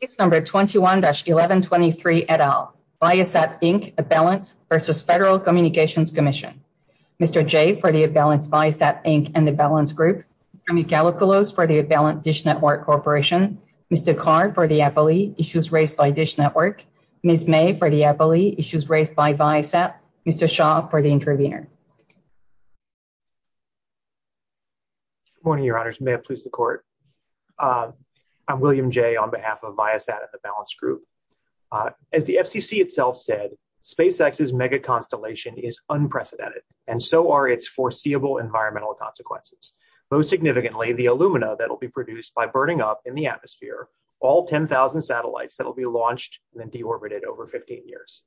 Case No. 21-1123, et al., Viasat, Inc., Avalance v. Federal Communications Commission Mr. Jay for the Avalance, Viasat, Inc., and Avalance Group Mr. Michalikoulos for the Avalance Dish Network Corporation Mr. Karn for the FOE, Issues Raised by Dish Network Ms. May for the FOE, Issues Raised by Viasat Mr. Shaw for the Intervenor Good morning, Your Honors, and may it please the Court I'm William Jay on behalf of Viasat and the Avalance Group As the FCC itself said, SpaceX's megaconstellation is unprecedented, and so are its foreseeable environmental consequences Most significantly, the alumina that will be produced by burning up in the atmosphere all 10,000 satellites that will be launched and then deorbited over 15 years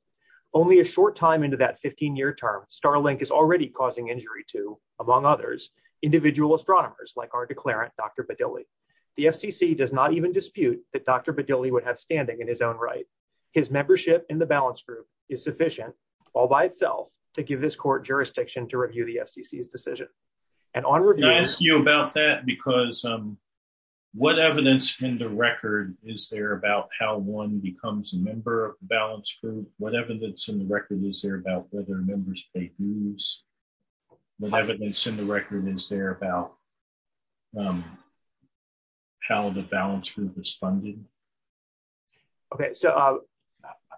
Only a short time into that 15-year term, Starlink is already causing injury to, among others, individual astronomers like our declarant, Dr. Bedilli The FCC does not even dispute that Dr. Bedilli would have standing in his own right His membership in the Avalance Group is sufficient, all by itself, to give this Court jurisdiction to review the FCC's decision And on review I ask you about that because, um, what evidence in the record is there about how one becomes a member of the Avalance Group? What evidence in the record is there about whether members take dues? What evidence in the record is there about how the Avalance Group is funded? Okay, so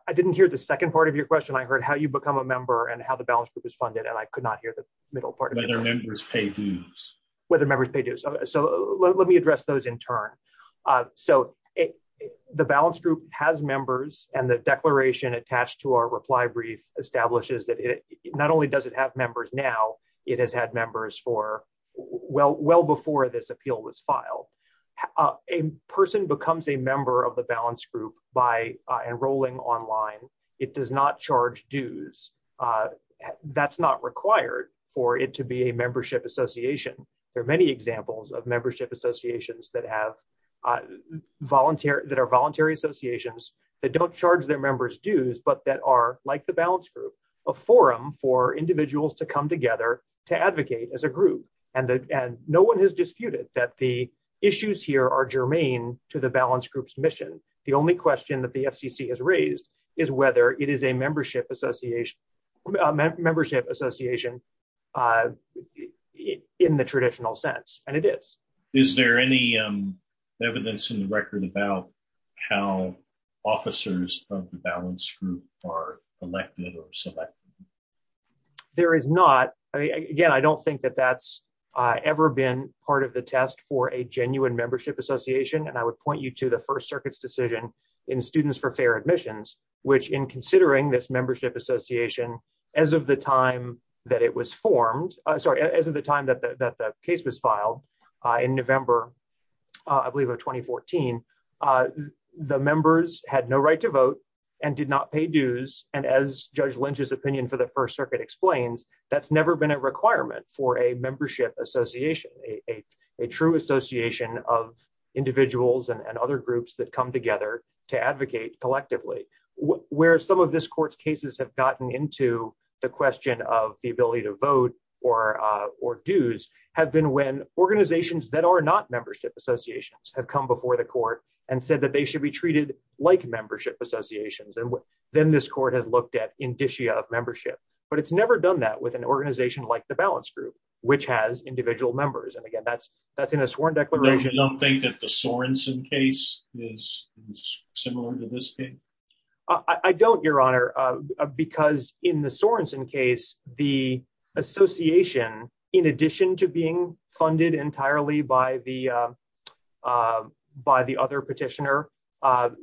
I didn't hear the second part of your question I heard how you become a member and how the Avalance Group is funded, and I could not hear the middle part Whether members pay dues Whether members pay dues So let me address those in turn So, the Avalance Group has members And the declaration attached to our reply brief establishes that it not only does it have members now It has had members for well before this appeal was filed A person becomes a member of the Avalance Group by enrolling online It does not charge dues That's not required for it to be a membership association There are many examples of membership associations that are voluntary associations that don't charge their members dues But that are, like the Avalance Group, a forum for individuals to come together to advocate as a group And no one has disputed that the issues here are germane to the Avalance Group's mission The only question that the FCC has raised is whether it is a membership association A membership association in the traditional sense And it is Is there any evidence in the record about how officers of the Avalance Group are elected or selected? There is not Again, I don't think that that's ever been part of the test for a genuine membership association And I would point you to the First Circuit's decision in Students for Fair Admissions Which in considering this membership association as of the time that it was formed As of the time that the case was filed in November, I believe, of 2014 The members had no right to vote and did not pay dues And as Judge Lynch's opinion for the First Circuit explains That's never been a requirement for a membership association A true association of individuals and other groups that come together to advocate collectively Where some of this court's cases have gotten into the question of the ability to vote or dues Have been when organizations that are not membership associations have come before the court And said that they should be treated like membership associations And then this court had looked at indicia of membership But it's never done that with an organization like the Avalance Group, which has individual members And again, that's in a sworn declaration You don't think that the Sorensen case is similar to this case? I don't, Your Honor, because in the Sorensen case The association, in addition to being funded entirely by the other petitioner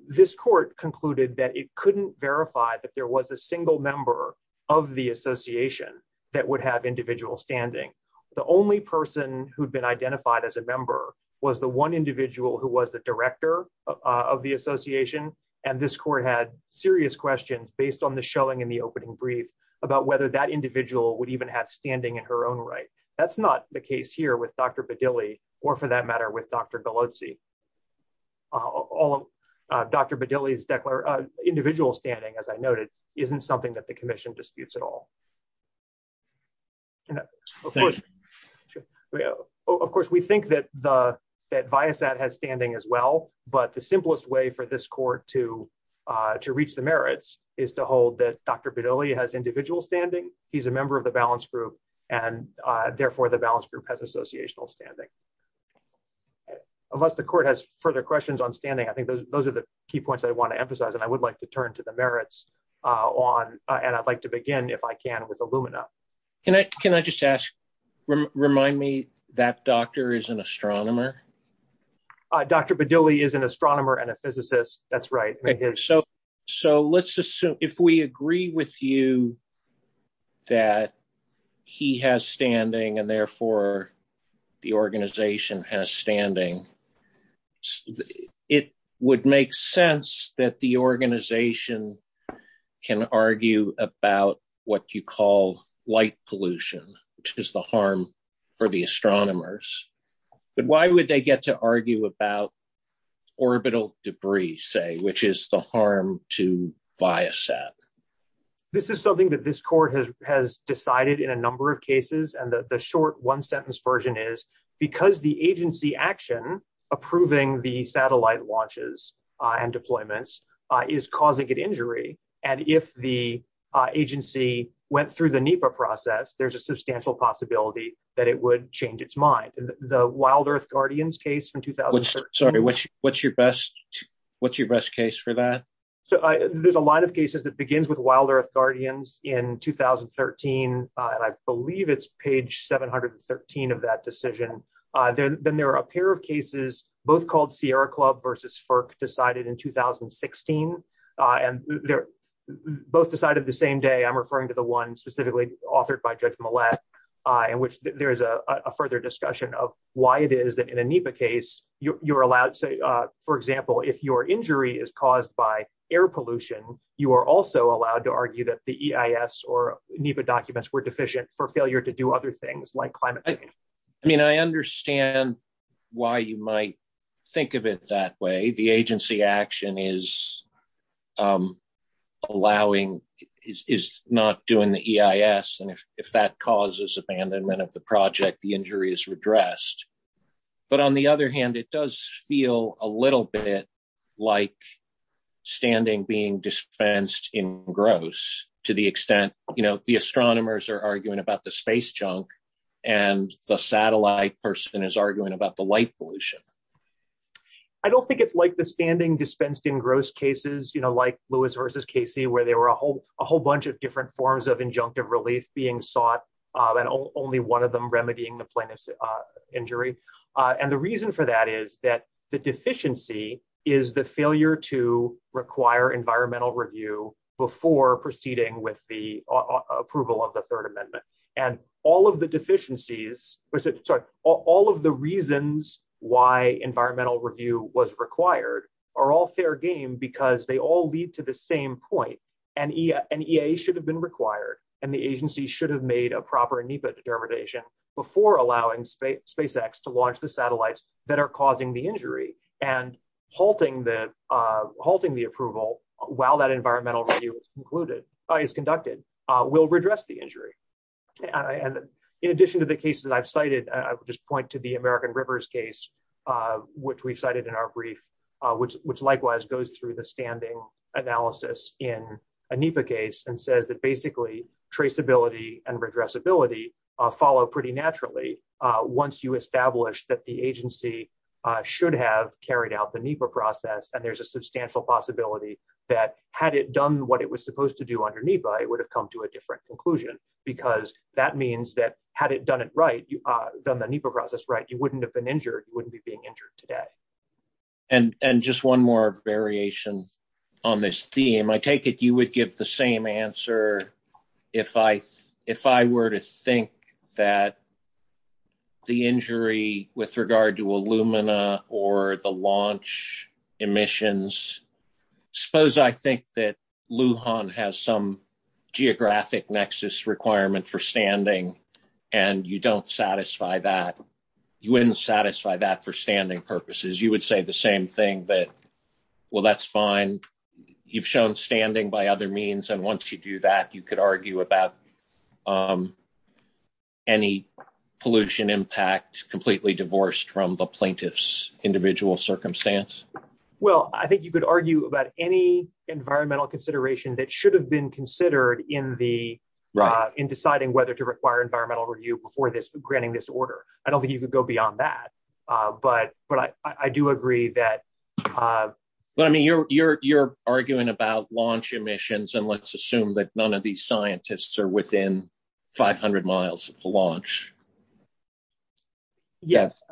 This court concluded that it couldn't verify that there was a single member of the association That would have individual standing The only person who had been identified as a member Was the one individual who was the director of the association And this court had serious questions based on the showing in the opening brief About whether that individual would even have standing in her own right That's not the case here with Dr. Bedilli, or for that matter with Dr. Galozzi Dr. Bedilli's individual standing, as I noted, isn't something that the commission disputes at all Of course, we think that Viasat has standing as well But the simplest way for this court to reach the merits Is to hold that Dr. Bedilli has individual standing He's a member of the Avalance Group, and therefore the Avalance Group has associational standing Unless the court has further questions on standing, I think those are the key points I want to emphasize And I would like to turn to the merits, and I'd like to begin, if I can, with Illumina Can I just ask, remind me, that doctor is an astronomer? Dr. Bedilli is an astronomer and a physicist, that's right So let's assume, if we agree with you, that he has standing And therefore the organization has standing It would make sense that the organization can argue about what you call light pollution But why would they get to argue about orbital debris, say, which is the harm to Viasat? This is something that this court has decided in a number of cases And the short one-sentence version is, because the agency action approving the satellite launches and deployments Is causing an injury, and if the agency went through the NEPA process There's a substantial possibility that it would change its mind The Wild Earth Guardians case from 2013 Sorry, what's your best case for that? There's a lot of cases that begins with Wild Earth Guardians in 2013 And I believe it's page 713 of that decision Then there are a pair of cases, both called Sierra Club versus FERC, decided in 2016 Both decided the same day, I'm referring to the one specifically authored by Judge Millett In which there is a further discussion of why it is that in a NEPA case You're allowed, say, for example, if your injury is caused by air pollution You are also allowed to argue that the EIS or NEPA documents were deficient for failure to do other things like climate change I mean, I understand why you might think of it that way The agency action is not doing the EIS And if that causes abandonment of the project, the injury is redressed But on the other hand, it does feel a little bit like standing being dispensed in gross To the extent, you know, the astronomers are arguing about the space junk And the satellite person is arguing about the light pollution I don't think it's like the standing dispensed in gross cases, you know, like Lewis versus Casey Where there were a whole bunch of different forms of injunctive relief being sought And only one of them remedying the plaintiff's injury And the reason for that is that the deficiency is the failure to require environmental review Before proceeding with the approval of the Third Amendment And all of the deficiencies, all of the reasons why environmental review was required are all fair game Because they all lead to the same point And EIA should have been required And the agency should have made a proper NEPA determination before allowing SpaceX to launch the satellites that are causing the injury And halting the approval while that environmental review is conducted will redress the injury In addition to the cases I've cited, I would just point to the American Rivers case, which we cited in our brief Which likewise goes through the standing analysis in a NEPA case And says that basically traceability and redressability follow pretty naturally Once you establish that the agency should have carried out the NEPA process And there's a substantial possibility that had it done what it was supposed to do under NEPA It would have come to a different conclusion Because that means that had it done it right, done the NEPA process right, you wouldn't have been injured You wouldn't be being injured today And just one more variation on this theme I take it you would give the same answer If I were to think that the injury with regard to Illumina or the launch emissions Suppose I think that Lujan has some geographic nexus requirement for standing And you don't satisfy that You wouldn't satisfy that for standing purposes You would say the same thing that, well, that's fine You've shown standing by other means And once you do that, you could argue about any pollution impact completely divorced from the plaintiff's individual circumstance Well, I think you could argue about any environmental consideration that should have been considered In deciding whether to require environmental review before granting this order I don't think you could go beyond that But I do agree that I mean, you're arguing about launch emissions And let's assume that none of these scientists are within 500 miles of the launch The answer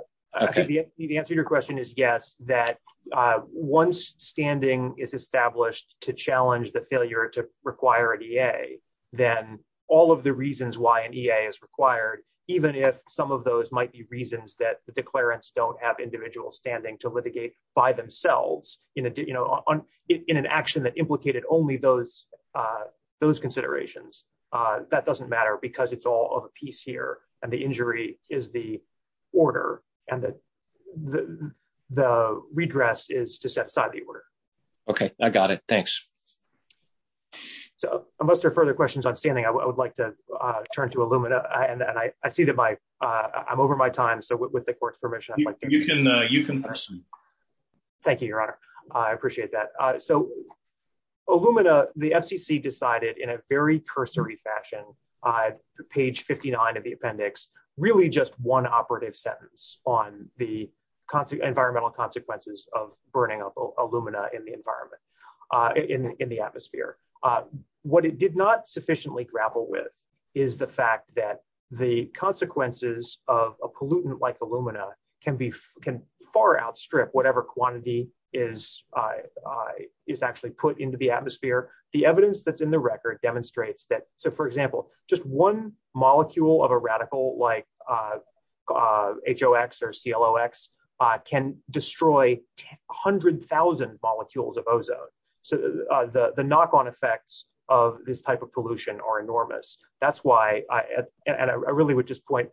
to your question is yes That once standing is established to challenge the failure to require an EA Then all of the reasons why an EA is required Even if some of those might be reasons that the declarants don't have individual standing to litigate by themselves In an action that implicated only those considerations That doesn't matter because it's all of a piece here And the injury is the order and that the redress is to set aside the order OK, I got it. Thanks So unless there are further questions on standing, I would like to turn to Illumina And I see that my I'm over my time So with the court's permission, you can ask me Thank you, Your Honor. I appreciate that So Illumina, the FCC decided in a very cursory fashion Page 59 of the appendix, really just one operative sentence on the environmental consequences of burning up Illumina in the environment In the atmosphere What it did not sufficiently grapple with is the fact that the consequences of a pollutant like Illumina can be can far outstrip whatever quantity is Is actually put into the atmosphere The evidence that's in the record demonstrates that. So, for example, just one molecule of a radical like HOX or CLOX can destroy hundred thousand molecules of ozone So the knock on effects of this type of pollution are enormous That's why I really would just point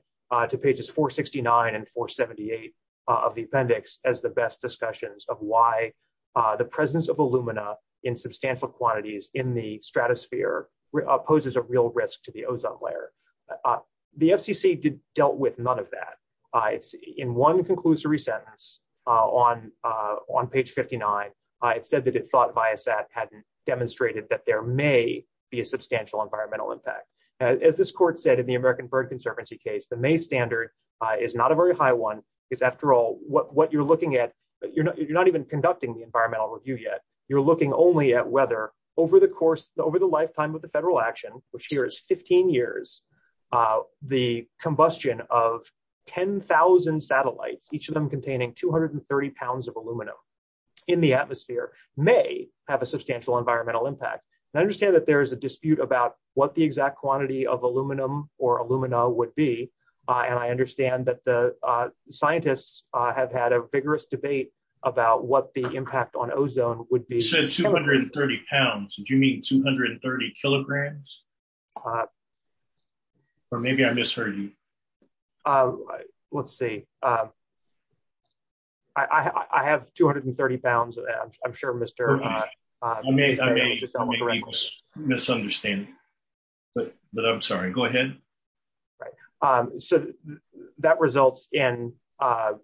to pages 469 and 478 of the appendix as the best discussions of why the presence of Illumina in substantial quantities in the stratosphere poses a real risk to the ozone layer The FCC did dealt with none of that. In one conclusory sentence on on page 59 I said that it thought Viasat had demonstrated that there may be a substantial environmental impact As this court said in the American Bird Conservancy case, the May standard is not a very high one Because after all what you're looking at, you're not even conducting the environmental review yet You're looking only at whether over the course, over the lifetime of the federal action, which here is 15 years The combustion of 10,000 satellites, each of them containing 230 pounds of Illumina in the atmosphere may have a substantial environmental impact I understand that there is a dispute about what the exact quantity of aluminum or Illumina would be And I understand that the scientists have had a vigorous debate about what the impact on ozone would be You said 230 pounds. Do you mean 230 kilograms? Or maybe I misheard you Let's see. I have 230 pounds. I'm sure Mr. I may be misunderstanding, but I'm sorry. Go ahead So that results in an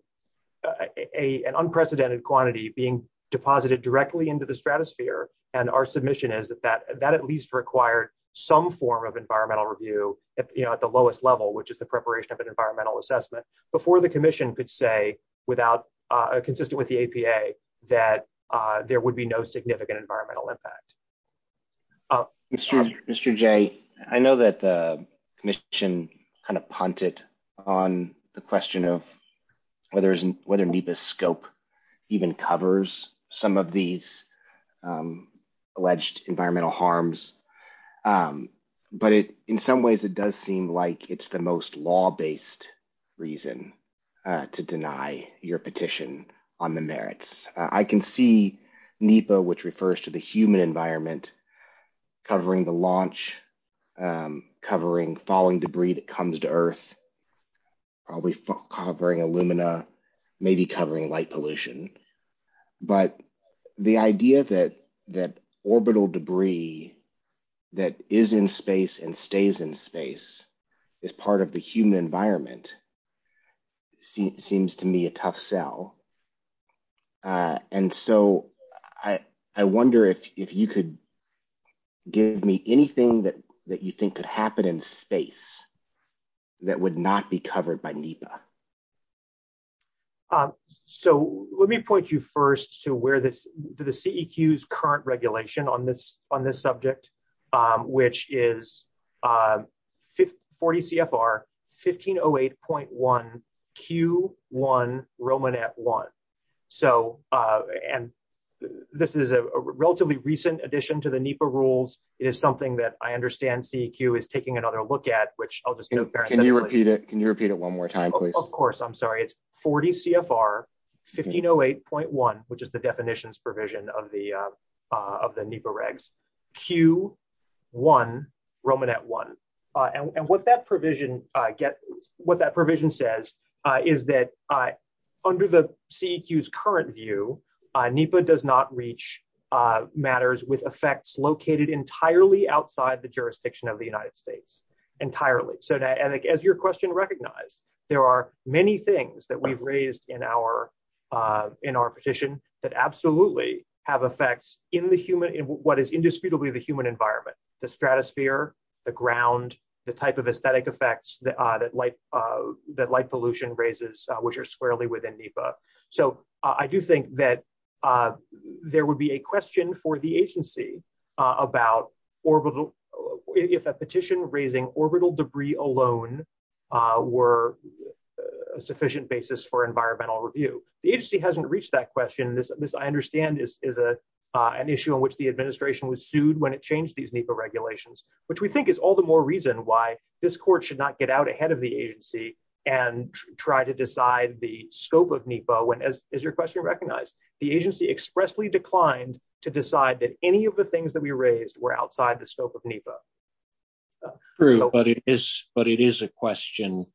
unprecedented quantity being deposited directly into the stratosphere And our submission is that that at least required some form of environmental review at the lowest level, which is the preparation of an environmental assessment Before the commission could say, consistent with the APA, that there would be no significant environmental impact Mr. J, I know that the commission kind of punted on the question of whether NEPA's scope even covers some of these alleged environmental harms But in some ways, it does seem like it's the most law-based reason to deny your petition on the merits I can see NEPA, which refers to the human environment, covering the launch, covering falling debris that comes to Earth, covering Illumina, maybe covering light pollution But the idea that orbital debris that is in space and stays in space is part of the human environment seems to me a tough sell And so I wonder if you could give me anything that you think could happen in space that would not be covered by NEPA So let me point you first to the CEQ's current regulation on this subject, which is 40 CFR 1508.1 Q1 Romanet 1 So, and this is a relatively recent addition to the NEPA rules. It is something that I understand CEQ is taking another look at, which I'll just Can you repeat it? Can you repeat it one more time, please? Of course, I'm sorry. It's 40 CFR 1508.1, which is the definitions provision of the NEPA regs, Q1 Romanet 1 And what that provision says is that under the CEQ's current view, NEPA does not reach matters with effects located entirely outside the jurisdiction of the United States So as your question recognized, there are many things that we've raised in our petition that absolutely have effects in what is indisputably the human environment The stratosphere, the ground, the type of aesthetic effects that light pollution raises, which are squarely within NEPA So I do think that there would be a question for the agency about if a petition raising orbital debris alone were a sufficient basis for environmental review The agency hasn't reached that question. This, I understand, is an issue in which the administration was sued when it changed these NEPA regulations Which we think is all the more reason why this court should not get out ahead of the agency and try to decide the scope of NEPA As your question recognized, the agency expressly declined to decide that any of the things that we raised were outside the scope of NEPA True, but it is a question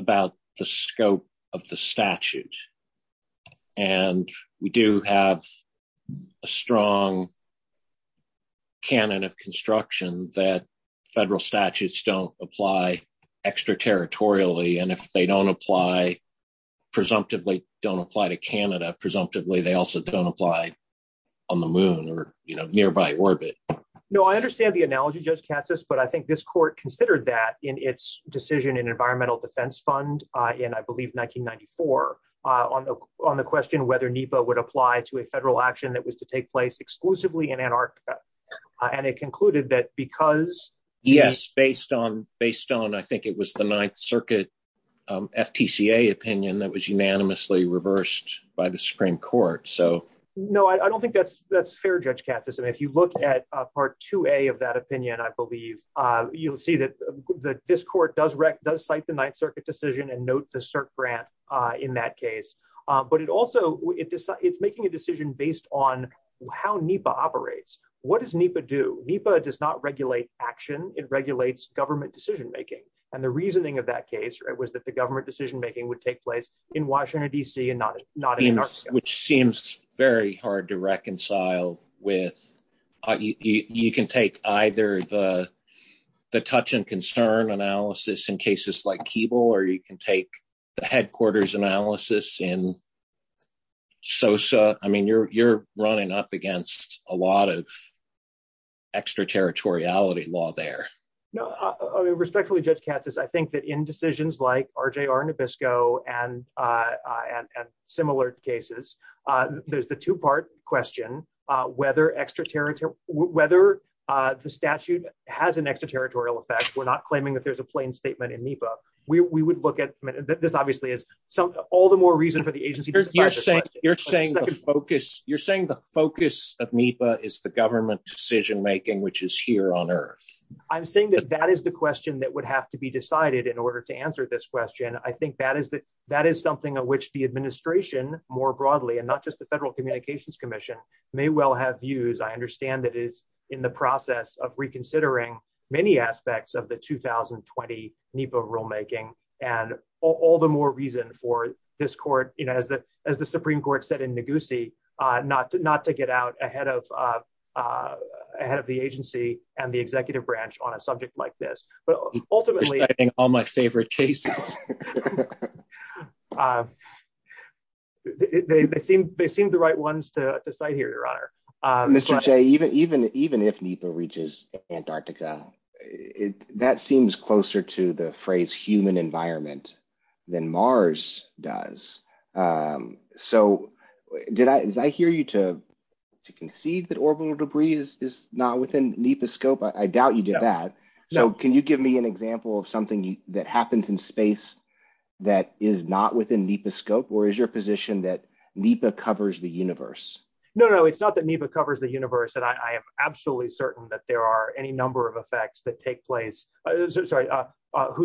about the scope of the statute And we do have a strong canon of construction that federal statutes don't apply extraterritorially And if they don't apply, presumptively don't apply to Canada, presumptively they also don't apply on the moon or nearby orbit No, I understand the analogy, Judge Katsas, but I think this court considered that in its decision in Environmental Defense Fund in, I believe, 1994 On the question whether NEPA would apply to a federal action that was to take place exclusively in Antarctica And it concluded that because Yes, based on, I think it was the Ninth Circuit FPCA opinion that was unanimously reversed by the Supreme Court No, I don't think that's fair, Judge Katsas, and if you look at Part 2A of that opinion, I believe You'll see that this court does cite the Ninth Circuit decision and note the CERC grant in that case But it also, it's making a decision based on how NEPA operates What does NEPA do? NEPA does not regulate action, it regulates government decision-making And the reasoning of that case was that the government decision-making would take place in Washington, D.C. and not in Antarctica Which seems very hard to reconcile with You can take either the touch and concern analysis in cases like Keeble or you can take the headquarters analysis in SOSA I mean, you're running up against a lot of extraterritoriality law there Respectfully, Judge Katsas, I think that in decisions like RJR Nabisco and similar cases There's the two-part question, whether the statute has an extraterritorial effect We're not claiming that there's a plain statement in NEPA We would look at, this obviously is, all the more reason for the agency to You're saying the focus of NEPA is the government decision-making, which is here on Earth I'm saying that that is the question that would have to be decided in order to answer this question I think that is something of which the administration more broadly and not just the Federal Communications Commission may well have views I understand that it's in the process of reconsidering many aspects of the 2020 NEPA rulemaking And all the more reason for this court, as the Supreme Court said in Negusi, not to get out ahead of the agency and the executive branch on a subject like this But ultimately All my favorite cases They seem the right ones to cite here, Your Honor Even if NEPA reaches Antarctica, that seems closer to the phrase human environment than Mars does So did I hear you to concede that orbital debris is not within NEPA's scope? I doubt you did that So can you give me an example of something that happens in space that is not within NEPA's scope? Or is your position that NEPA covers the universe? No, no, it's not that NEPA covers the universe And I am absolutely certain that there are any number of effects that take place Whose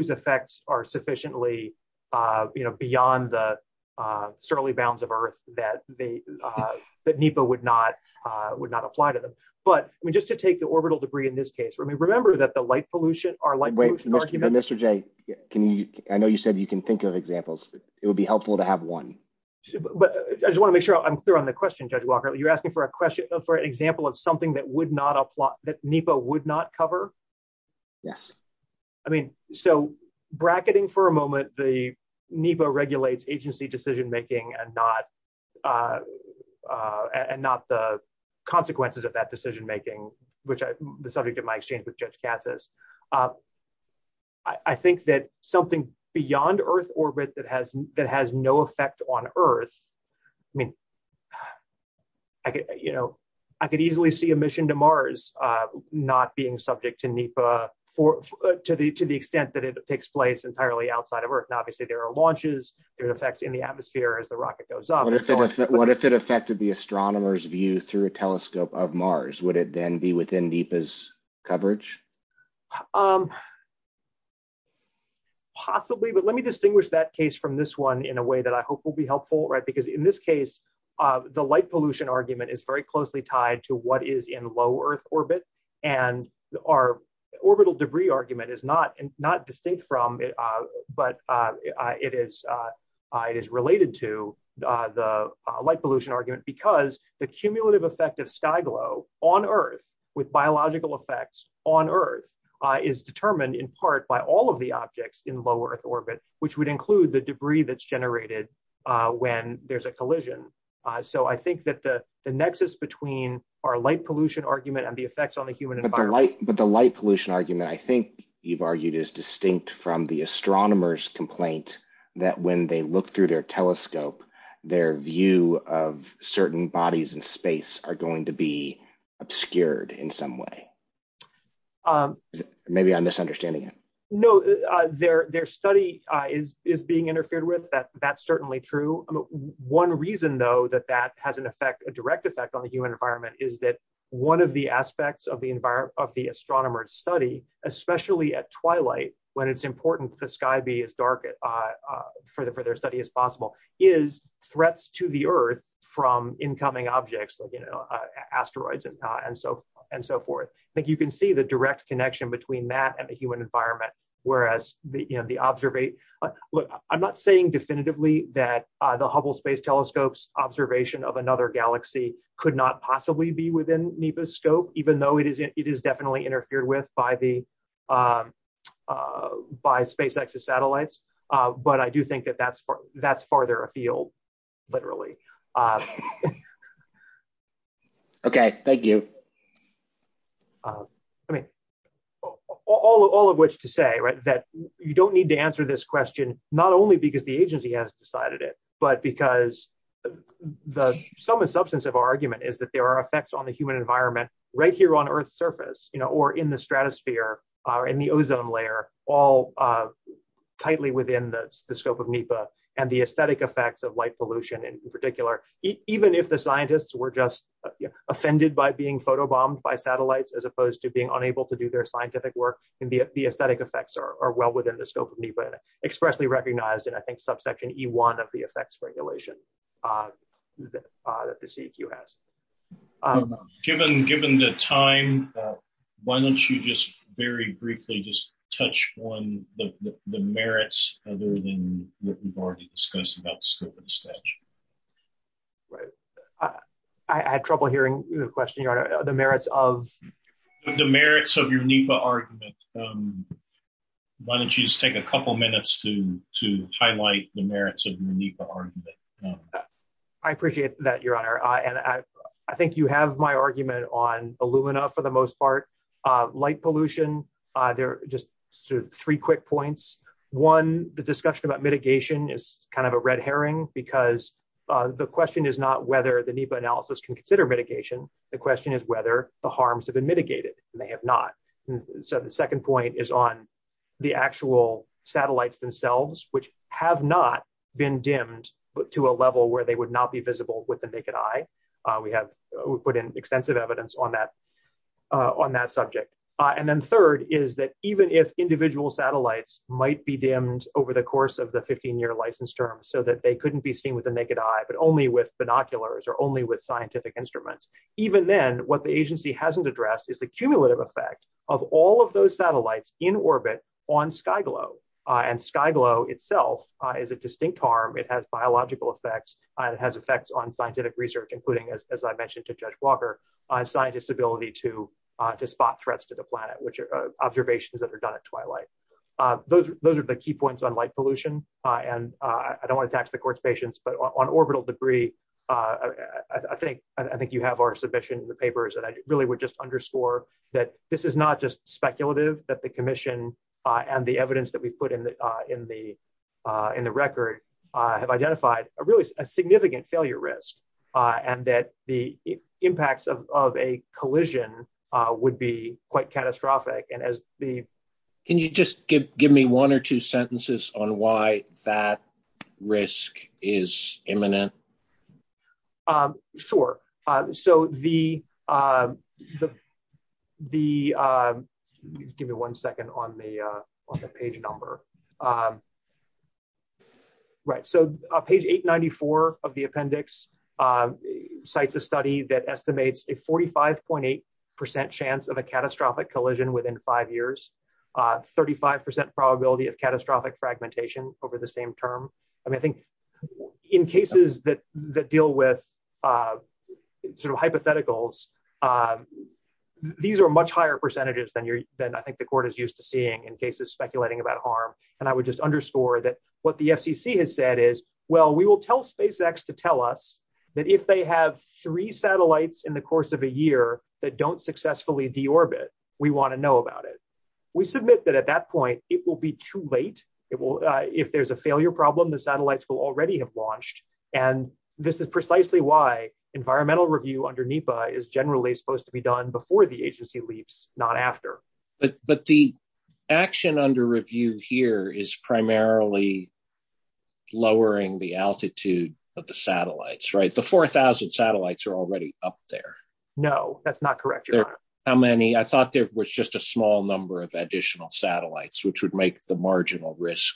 effects are sufficiently beyond the surly bounds of Earth that NEPA would not apply to them But just to take the orbital debris in this case, remember that the light pollution Wait, Mr. J, I know you said you can think of examples It would be helpful to have one I just want to make sure I'm clear on the question, Judge Walker You're asking for an example of something that NEPA would not cover? Yes I mean, so bracketing for a moment The NEPA regulates agency decision making and not the consequences of that decision making Which is the subject of my exchange with Judge Cassis I think that something beyond Earth orbit that has no effect on Earth I mean, I could easily see a mission to Mars not being subject to NEPA To the extent that it takes place entirely outside of Earth And obviously there are launches, there are effects in the atmosphere as the rocket goes up What if it affected the astronomer's view through a telescope of Mars? Would it then be within NEPA's coverage? Possibly, but let me distinguish that case from this one in a way that I hope will be helpful Because in this case, the light pollution argument is very closely tied to what is in low Earth orbit And our orbital debris argument is not distinct from it But it is related to the light pollution argument Because the cumulative effect of sky glow on Earth with biological effects on Earth Is determined in part by all of the objects in low Earth orbit Which would include the debris that's generated when there's a collision So I think that the nexus between our light pollution argument and the effects on the human environment But the light pollution argument I think you've argued is distinct from the astronomer's complaint That when they look through their telescope, their view of certain bodies in space Are going to be obscured in some way Maybe I'm misunderstanding No, their study is being interfered with, that's certainly true One reason though that that has a direct effect on the human environment Especially at twilight, when it's important for the sky to be as dark for their study as possible Is threats to the Earth from incoming objects like asteroids and so forth I think you can see the direct connection between that and the human environment I'm not saying definitively that the Hubble Space Telescope's observation of another galaxy Could not possibly be within NEPA's scope, even though it is definitely interfered with By SpaceX's satellites But I do think that that's farther afield, literally All of which to say that you don't need to answer this question Not only because the agency has decided it But because some substance of our argument is that there are effects on the human environment Right here on Earth's surface, or in the stratosphere, or in the ozone layer All tightly within the scope of NEPA And the aesthetic effects of light pollution in particular Even if the scientists were just offended by being photobombed by satellites As opposed to being unable to do their scientific work The aesthetic effects are well within the scope of NEPA Expressly recognized in I think subsection E1 of the effects regulation That the CEQ has Given the time, why don't you just very briefly just touch on the merits Other than what we've already discussed about the scope of the study I have trouble hearing the question, the merits of The merits of your NEPA argument Why don't you just take a couple minutes to highlight the merits of your NEPA argument I appreciate that, your honor I think you have my argument on Illumina for the most part Light pollution, just three quick points One, the discussion about mitigation is kind of a red herring Because the question is not whether the NEPA analysis can consider mitigation The question is whether the harms have been mitigated And they have not. So the second point is on the actual satellites themselves Which have not been dimmed to a level where they would not be visible with the naked eye We have put in extensive evidence on that subject And then third is that even if individual satellites might be dimmed Over the course of the 15-year license term so that they couldn't be seen with the naked eye But only with binoculars or only with scientific instruments Even then, what the agency hasn't addressed is the cumulative effect of all of those satellites In orbit on SkyGlo, and SkyGlo itself is a distinct harm It has biological effects, it has effects on scientific research, including, as I mentioned to Judge Walker Scientists' ability to spot threats to the planet, which are observations that are done at twilight Those are the key points on light pollution And I don't want to tax the court's patience, but on orbital debris I think you have our submission in the papers And I really would just underscore that this is not just speculative That the commission and the evidence that we put in the record Have identified a really significant failure risk And that the impacts of a collision would be quite catastrophic Can you just give me one or two sentences on why that risk is imminent? Sure, so the Give me one second on the page number Right, so page 894 of the appendix Cites a study that estimates a 45.8% chance of a catastrophic collision within five years 35% probability of catastrophic fragmentation over the same term I mean, I think in cases that deal with sort of hypotheticals These are much higher percentages than I think the court is used to seeing in cases speculating about harm And I would just underscore that what the FCC has said is Well, we will tell SpaceX to tell us that if they have three satellites in the course of a year That don't successfully deorbit, we want to know about it We submit that at that point it will be too late If there's a failure problem, the satellites will already have launched And this is precisely why environmental review under NEPA Is generally supposed to be done before the agency leaves, not after But the action under review here is primarily Lowering the altitude of the satellites, right? The 4,000 satellites are already up there No, that's not correct How many? I thought there was just a small number of additional satellites Which would make the marginal risk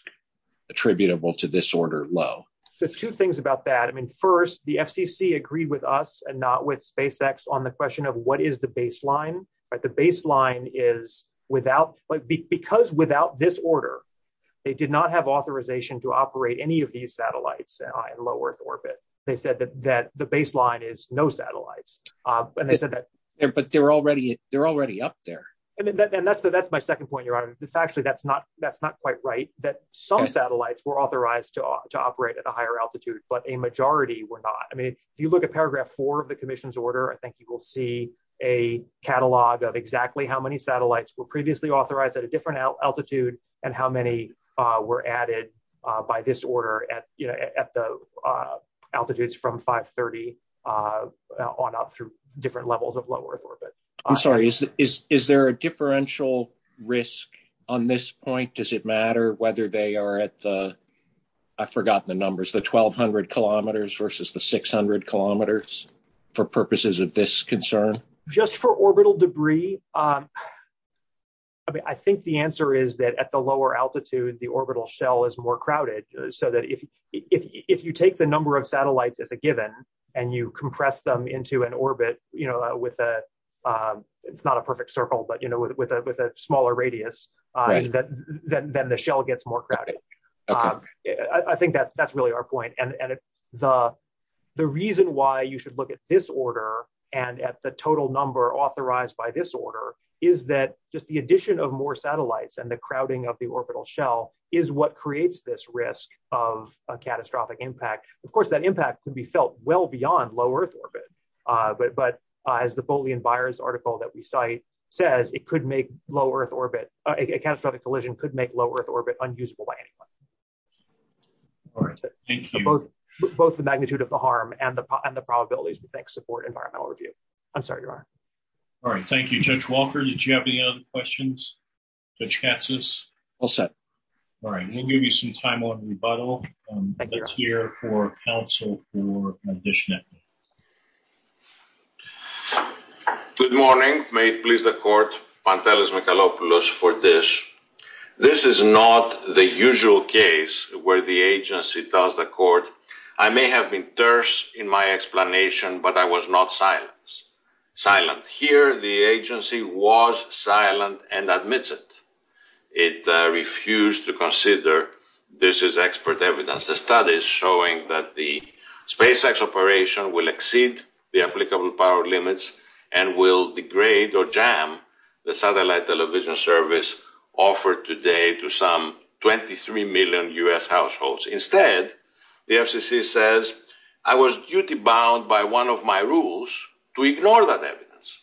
attributable to this order low So two things about that I mean, first, the FCC agreed with us and not with SpaceX on the question of what is the baseline But the baseline is without, because without this order They did not have authorization to operate any of these satellites in low Earth orbit They said that the baseline is no satellites But they're already up there And that's my second point, Your Honor It's actually, that's not quite right That some satellites were authorized to operate at a higher altitude But a majority were not I mean, if you look at paragraph four of the commission's order I think you will see a catalog of exactly how many satellites were previously authorized at a different altitude And how many were added by this order at the altitudes from 530 On up through different levels of low Earth orbit I'm sorry, is there a differential risk on this point? Does it matter whether they are at the, I forgot the numbers The 1200 kilometers versus the 600 kilometers for purposes of this concern Just for orbital debris I mean, I think the answer is that at the lower altitude, the orbital shell is more crowded So that if you take the number of satellites at the given And you compress them into an orbit, you know, with a It's not a perfect circle, but, you know, with a smaller radius Then the shell gets more crowded I think that's really our point And the reason why you should look at this order And at the total number authorized by this order Is that just the addition of more satellites and the crowding of the orbital shell Is what creates this risk of a catastrophic impact Of course, that impact can be felt well beyond low Earth orbit But as the Bolle and Byers article that we cite says It could make low Earth orbit, a catastrophic collision could make low Earth orbit Unusable by anyone Both the magnitude of the harm and the probabilities to support environmental review I'm sorry, Your Honor All right, thank you, Judge Walker. Did you have any other questions? Judge Katsas? All set All right, we'll give you some time on rebuttal Let's hear from counsel for conditioning Good morning. May it please the court Pantelis Michalopoulos for this This is not the usual case where the agency tells the court I may have been terse in my explanation, but I was not silent Silent. Here the agency was silent and admitted It refused to consider This is expert evidence The study is showing that the SpaceX operation Will exceed the applicable power limits And will degrade or jam the satellite television service Offered today to some 23 million U.S. households Instead, the FCC says I was duty-bound by one of my rules To ignore that evidence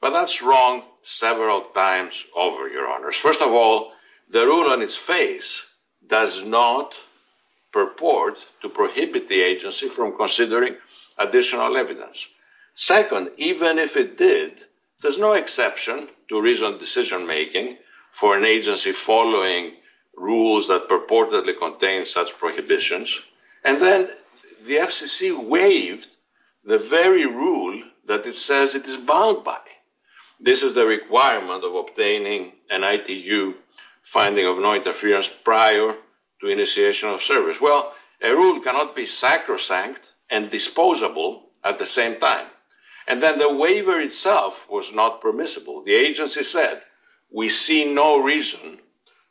But that's wrong several times over, Your Honor First of all, the rule on its face Does not purport to prohibit the agency From considering additional evidence Second, even if it did There's no exception to reasonable decision-making For an agency following rules That purportedly contain such prohibitions And then the FCC waived the very rule That it says it is bound by This is the requirement of obtaining an ITU Finding of no interference prior to initiation of service Well, a rule cannot be sacrosanct And disposable at the same time And then the waiver itself was not permissible The agency said, we see no reason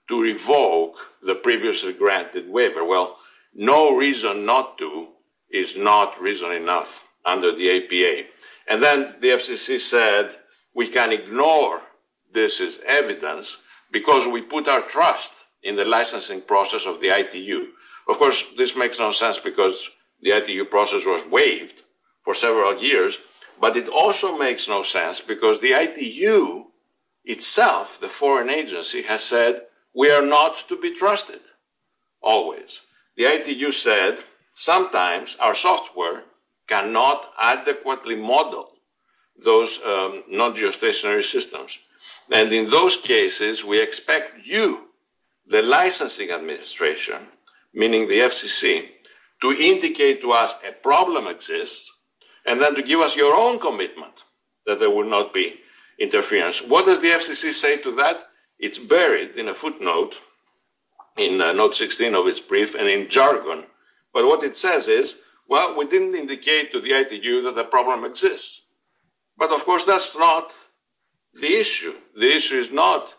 To revoke the previously granted waiver Well, no reason not to Is not reason enough under the APA And then the FCC said We can ignore this evidence Because we put our trust In the licensing process of the ITU Of course, this makes no sense Because the ITU process was waived For several years But it also makes no sense Because the ITU itself, the foreign agency Has said we are not to be trusted Always The ITU said Sometimes our software Cannot adequately model Those non-geostationary systems And in those cases we expect you The licensing administration Meaning the FCC To indicate to us a problem exists And then to give us your own commitment That there will not be interference What does the FCC say to that? It's buried in a footnote In note 16 of its brief And in jargon But what it says is Well, we didn't indicate to the ITU That the problem exists But of course that's not the issue The issue is not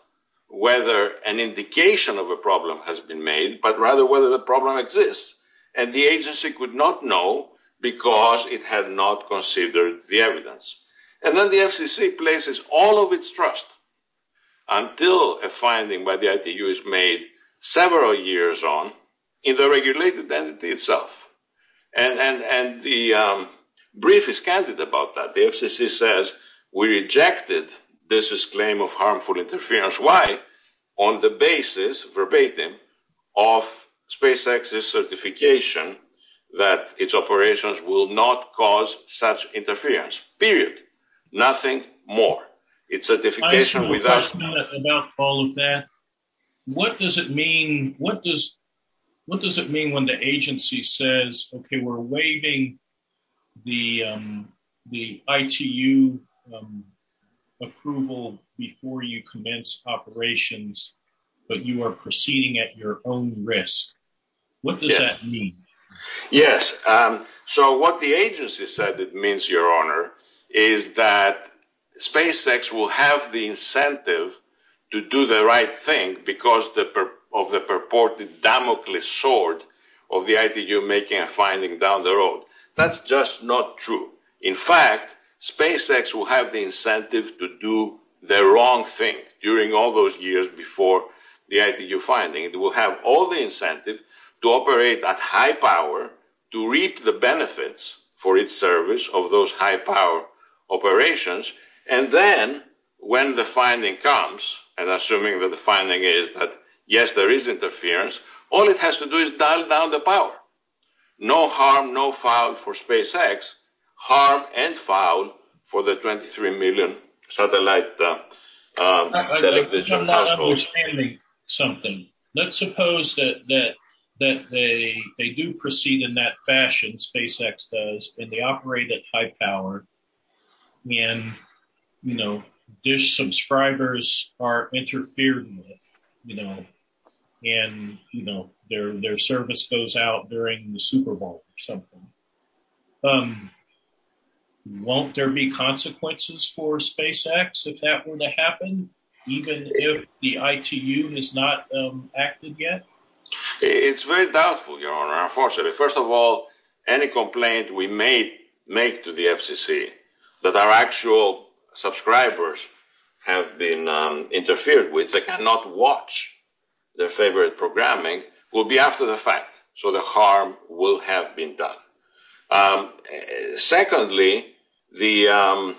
whether An indication of a problem has been made But rather whether the problem exists And the agency could not know Because it had not considered the evidence And then the FCC places all of its trust Until a finding by the ITU is made Several years on In the regulated entity itself And the brief is candid about that The FCC says We rejected this claim of harmful interference Why? On the basis, verbatim Of SpaceX's certification That its operations will not cause Such interference Period Nothing more Its certification without I have a question about all of that What does it mean What does it mean when the agency says Okay, we're waiving The ITU approval Before you commence operations But you are proceeding at your own risk What does that mean? Yes So what the agency said It means, your honor Is that SpaceX will have the incentive To do the right thing Because of the purported Damocles sword Of the ITU making a finding down the road That's just not true In fact SpaceX will have the incentive To do the wrong thing During all those years Before the ITU finding It will have all the incentive To operate at high power To reap the benefits For its service Of those high power operations And then When the finding comes And assuming that the finding is That yes, there is interference All it has to do is Dial down the power No harm, no foul for SpaceX Harm and foul For the 23 million satellite Electricity I'm understanding something Let's suppose that They do proceed in that fashion SpaceX does And they operate at high power And You know Dish subscribers are Interfered with You know And you know Their service goes out During the Superbowl Or something Won't there be consequences For SpaceX If that were to happen Even if the ITU is not Active yet It's very doubtful, your honor Unfortunately First of all Any complaint we may make To the FCC That our actual Subscribers Have been Interfered with They cannot watch Their favorite programming Will be after the fact So the harm Will have been done Secondly The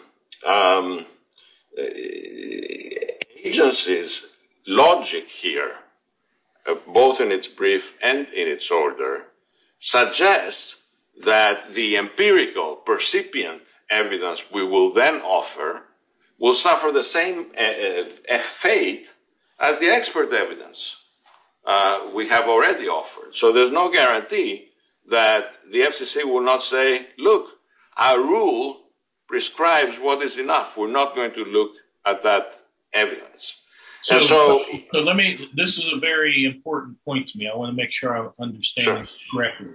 Agency's Logic here Both in its brief And in its order Suggests That the empirical Percipient evidence We will then offer Will suffer the same Fate As the expert evidence We have already offered So there's no guarantee That the FCC will not say Look Our rule prescribes What is enough We're not going to look At that evidence So let me This is a very important point to me I want to make sure I understand Correctly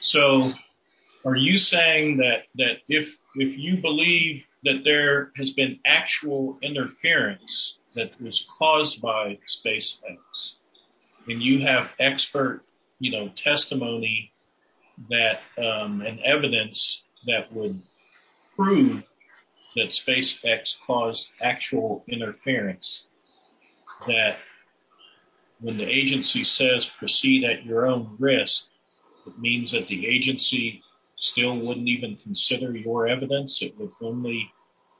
So Are you saying That if you believe That there has been actual Interference That was caused by SpaceX And you have expert You know, testimony That an evidence That would prove That SpaceX Caused actual interference That When the agency says Proceed at your own risk It means that the agency Still wouldn't even consider Your evidence It would only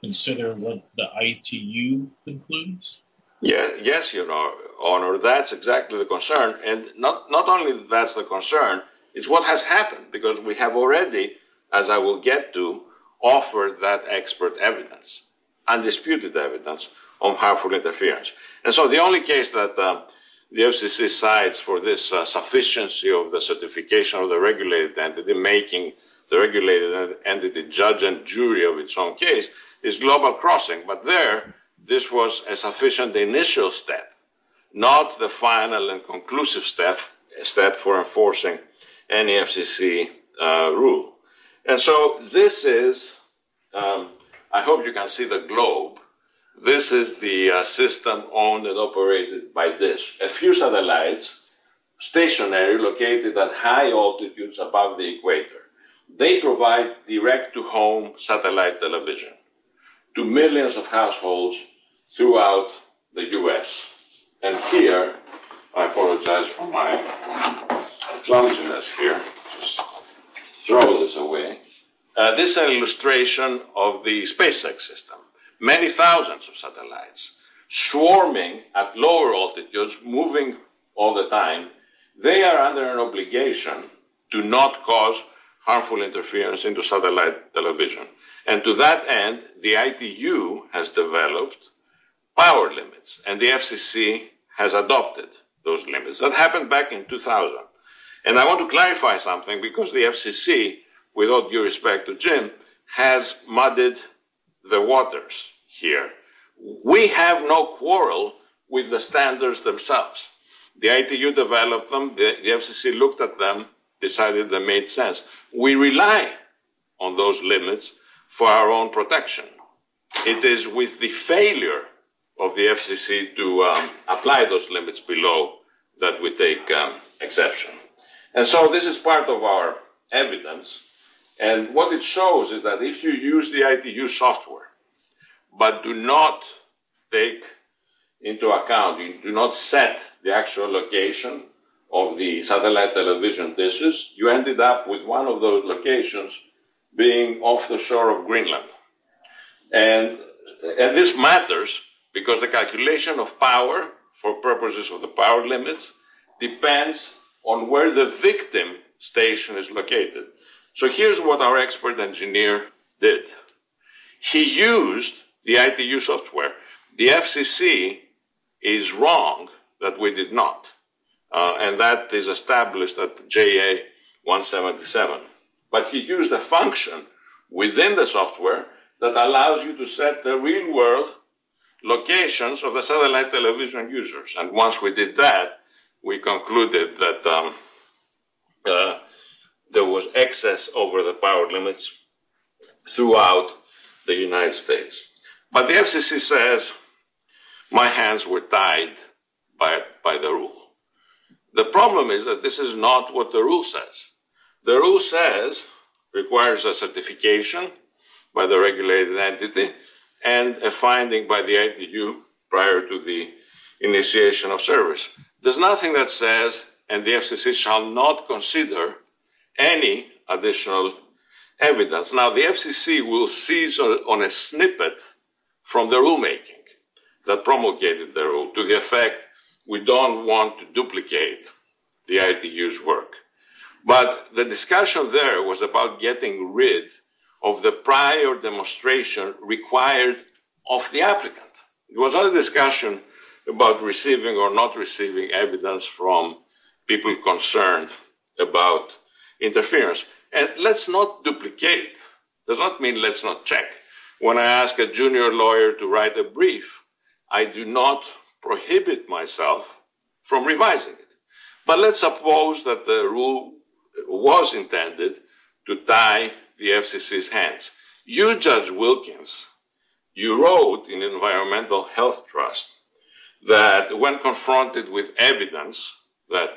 consider What the ITU concludes? Yes, your honor That's exactly the concern And not only that's the concern It's what has happened Because we have already As I will get to Offered that expert evidence Undisputed evidence On how it interferes And so the only case that The FCC decides for this The sufficiency of the certification Of the regulated entity making The regulated entity judge And jury of its own case Is global crossing But there This was a sufficient initial step Not the final And conclusive step For enforcing any FCC Rule And so this is I hope you can see the globe This is the system Owned and operated by this A few satellites Stationary located at high altitudes Above the equator They provide direct to home Satellite television To millions of households Throughout the US And here I apologize for my Throw this away This is an illustration Of the SpaceX system Many thousands of satellites Swarming at lower altitudes Moving all the time They are under an obligation To not cause harmful Interference into satellite television And to that end The ITU has developed Power limits And the FCC has adopted Those limits. That happened back in 2000 And I want to clarify something Because the FCC Without due respect to Jim Has muddied the waters Here. We have no Quarrel with the standards Themselves. The ITU Developed them. The FCC looked at them Decided they made sense We rely on those Limits for our own protection It is with the failure Of the FCC to Apply those limits below That we take exception And so this is part of our Evidence And what it shows is that if you use The ITU software But do not take Into account Do not set the actual location Of the satellite television Dishes, you ended up with one of those Locations being Off the shore of Greenland And this matters Because the calculation of power For purposes of the power Limits depends On where the victim station Is located. So here is what Our expert engineer did He used The ITU software. The FCC Is wrong That we did not And that is established at JA-177 But he used a function Within the software that allows You to set the real world Locations of the satellite Television users. And once we did that We concluded that There was Excess over the power Limits throughout The United States. But The FCC says My hands were tied By the rule. The problem is that this is not what the Rule says. The rule says It requires a certification By the regulated entity And a finding by The ITU prior to the Initiation of service. There's nothing that says And the FCC shall not consider Any additional Evidence. Now the FCC Will seize on a snippet From the rulemaking That promulgated the rule. To the effect We don't want to duplicate The ITU's work. But the discussion There was about getting rid Of the prior demonstration Required of the applicant. It was not a discussion About receiving or not receiving Evidence from people Concerned about Interference. And let's not Duplicate. Does not mean let's Not check. When I ask a junior Lawyer to write a brief I do not prohibit Myself from revising it. But let's suppose that the Rule was intended To tie the FCC's Hands. You, Judge Wilkins You wrote in The Environmental Health Trust That when confronted with Evidence that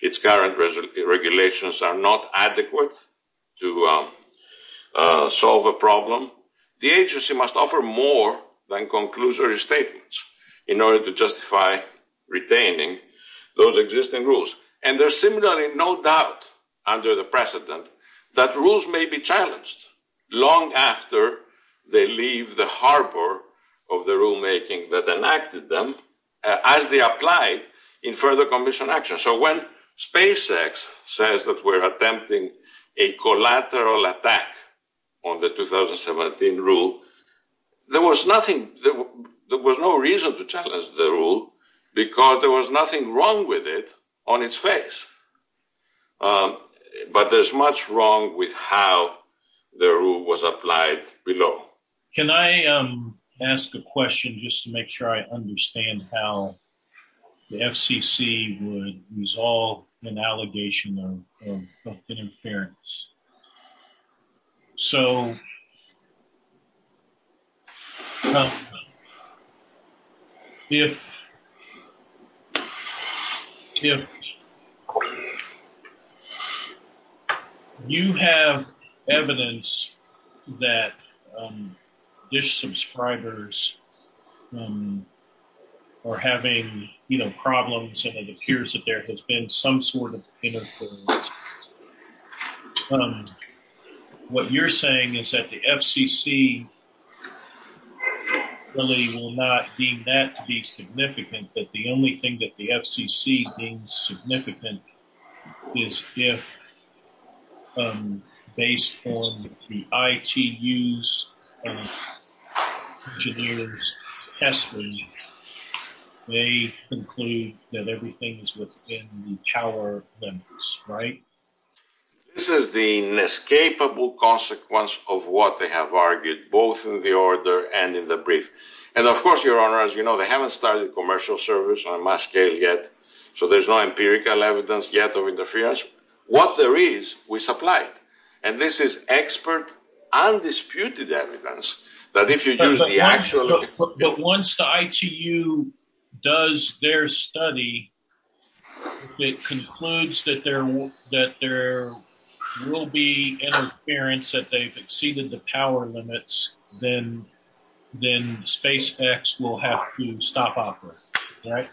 Its current regulations Are not adequate to Solve a Problem, the agency must Offer more than conclusory Statements in order to justify Retaining those Existing rules. And there's similarly No doubt under the precedent That rules may be challenged Long after They leave the harbor Of the rulemaking that enacted Them as they applied In further commission action. So When SpaceX says That we're attempting a collateral Attack on the 2017 rule There was nothing There was no reason to challenge the rule Because there was nothing wrong With it on its face. But there's Much wrong with how The rule was applied Below. Can I Ask a question just to make sure I Understand how The FCC would Resolve an allegation of Inference. So If You Have Evidence That Dish Subscribers Are having Problems and it appears Inference What you're Saying is that the FCC Has not The FCC Really will not Deem that to be significant But the only thing that the FCC Deems significant Is if Based on The ITU's Engineers Testing They conclude That everything is within the Tower limits, right? This is the Inescapable consequence Of what they have argued both in the Order and in the brief. And of course, your honor, as you know, they haven't studied Commercial servers on my scale yet So there's no empirical evidence yet Of interference. What there is We supplied. And this is Expert, undisputed Evidence that if you do the Actual... But once the ITU Does their Study It concludes that there Will be Interference that they've Exceeded the power limits Then SpaceX Will have to stop operating Right?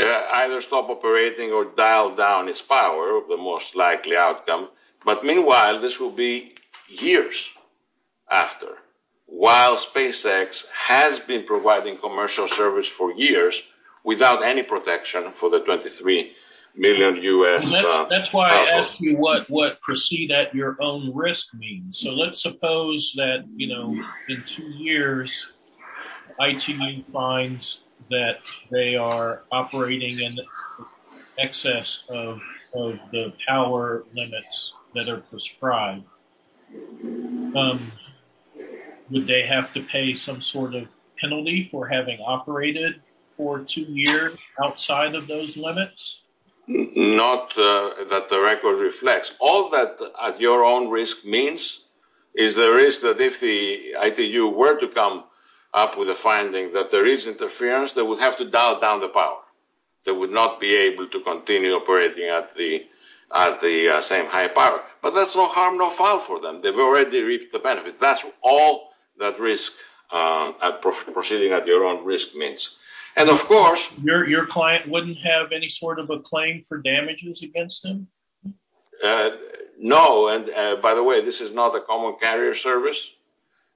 Either stop operating or dial down Its power, the most likely outcome But meanwhile, this will be Years after While SpaceX Has been providing commercial Servers for years without any Protection for the 23 Million U.S. That's why I asked you what Proceed at your own risk means So let's suppose that In two years ITU finds That they are operating In excess Of the power Limits that are prescribed Would they have to pay Some sort of penalty for having Operated for two years Outside of those limits? Not that the record Reflects. All that Your own risk means Is the risk that if the ITU Were to come up with a Finding that there is interference They would have to dial down the power They would not be able to continue operating At the Shanghai Park. But that's no harm, no foul For them. They've already reached the benefit That's all that risk Proceeding at your own risk Means. And of course Your client wouldn't have any sort of Claim for damages against them? No And by the way, this is not a common Carrier service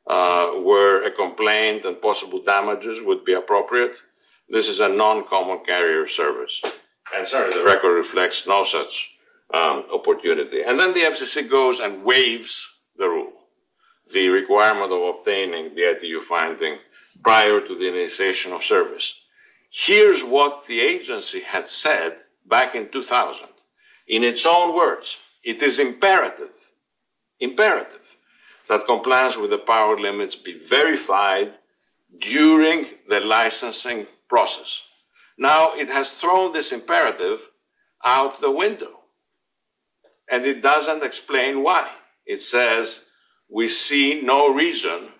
Where a complaint and possible Damages would be appropriate This is a non-common carrier service And so the record reflects No such opportunity And then the FCC goes and waives The rule. The requirement Of obtaining the ITU Prior to the initiation Of service. Here's what The agency had said Back in 2000 In its own words It is imperative That compliance with the power limits Be verified During the licensing Process. Now it has Thrown this imperative Out the window And it doesn't explain why It says we see No reason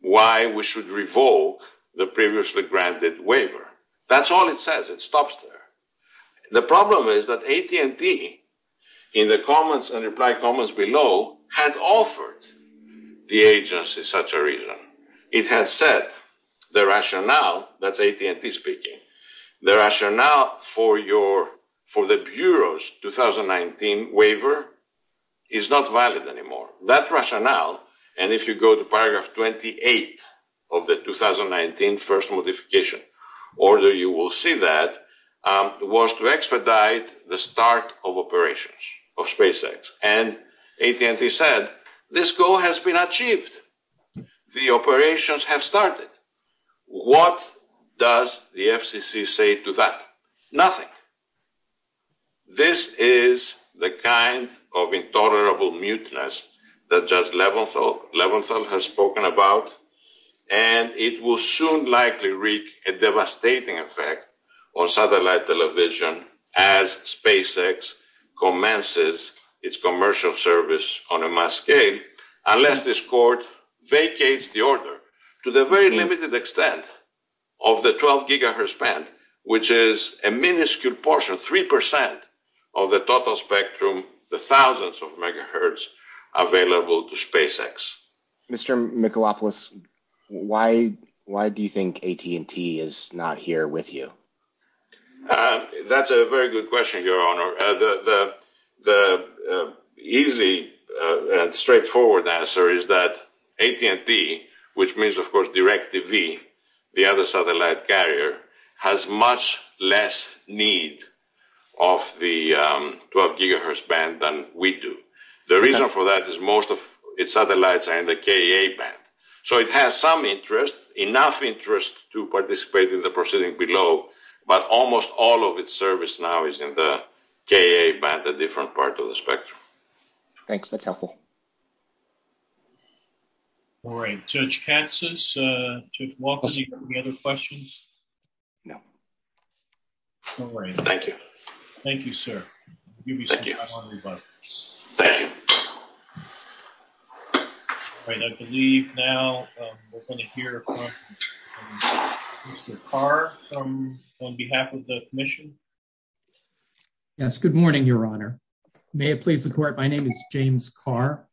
Why we should revolt The previously granted waiver That's all it says. It stops there The problem is that AT&T In the comments And reply comments below Had offered the agency Such a reason. It had said The rationale That's AT&T speaking The rationale for your For the Bureau's 2019 Waiver is not Valid anymore. That rationale And if you go to paragraph 28 Of the 2019 First modification You will see that Was to expedite the start Of operations of SpaceX And AT&T said This goal has been achieved The operations have started What Does the FCC say to that? Nothing This is The kind of intolerable Mutinous that just Leventhal has spoken about And it will soon Likely wreak a devastating Effect on satellite Television as SpaceX Commences Its commercial service on a mass Scale unless this court Vacates the order To the very limited extent Of the 12 GHz band Which is a minuscule portion 3% of the total Spectrum, the thousands of Megahertz available to SpaceX Mr. Mikalopoulos, why Do you think AT&T is not Here with you? That's a very good question, Your Honor The Easily Straightforward answer is that AT&T, which means of course DirecTV, the other Satellite carrier, has much Less need Of the 12 GHz band than we do The reason for that is most of its Satellites are in the KEA band So it has some interest, enough Interest to participate in the Proceeding below, but almost All of its service now is in the KEA band, the different part of the Spectrum Thanks, Mikalopoulos All right, Judge Katsas Judge Walters, any other Questions? No Thank you Thank you Thank you All right, I believe Now we're going to hear Mr. Carr On behalf of the Commission Yes, good morning, Your Honor May it please the Court, my name is James Carr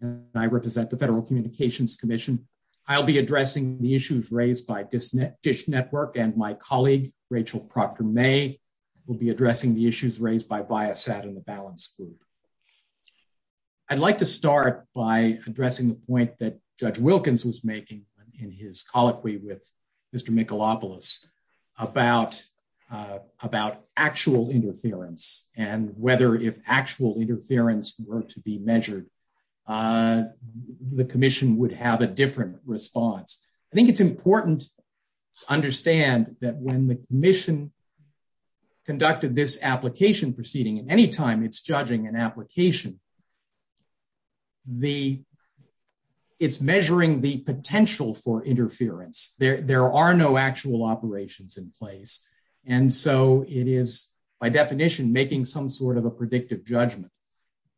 And I represent The Federal Communications Commission I'll be addressing the issues Raised by Dish Network And my colleague, Rachel Proctor-May Will be addressing the issues Raised by Biosat and the Balance Group I'd like to Start by addressing the point That Judge Wilkins was making In his colloquy with Mr. Mikalopoulos About Actual interference and Whether if actual interference Were to be measured The Commission would have A different response I think it's important to understand That when the Commission Conducted this Application proceeding, anytime it's Judging an application The It's measuring the Potential for interference There are no actual operations In place, and so It is, by definition, making Some sort of a predictive judgment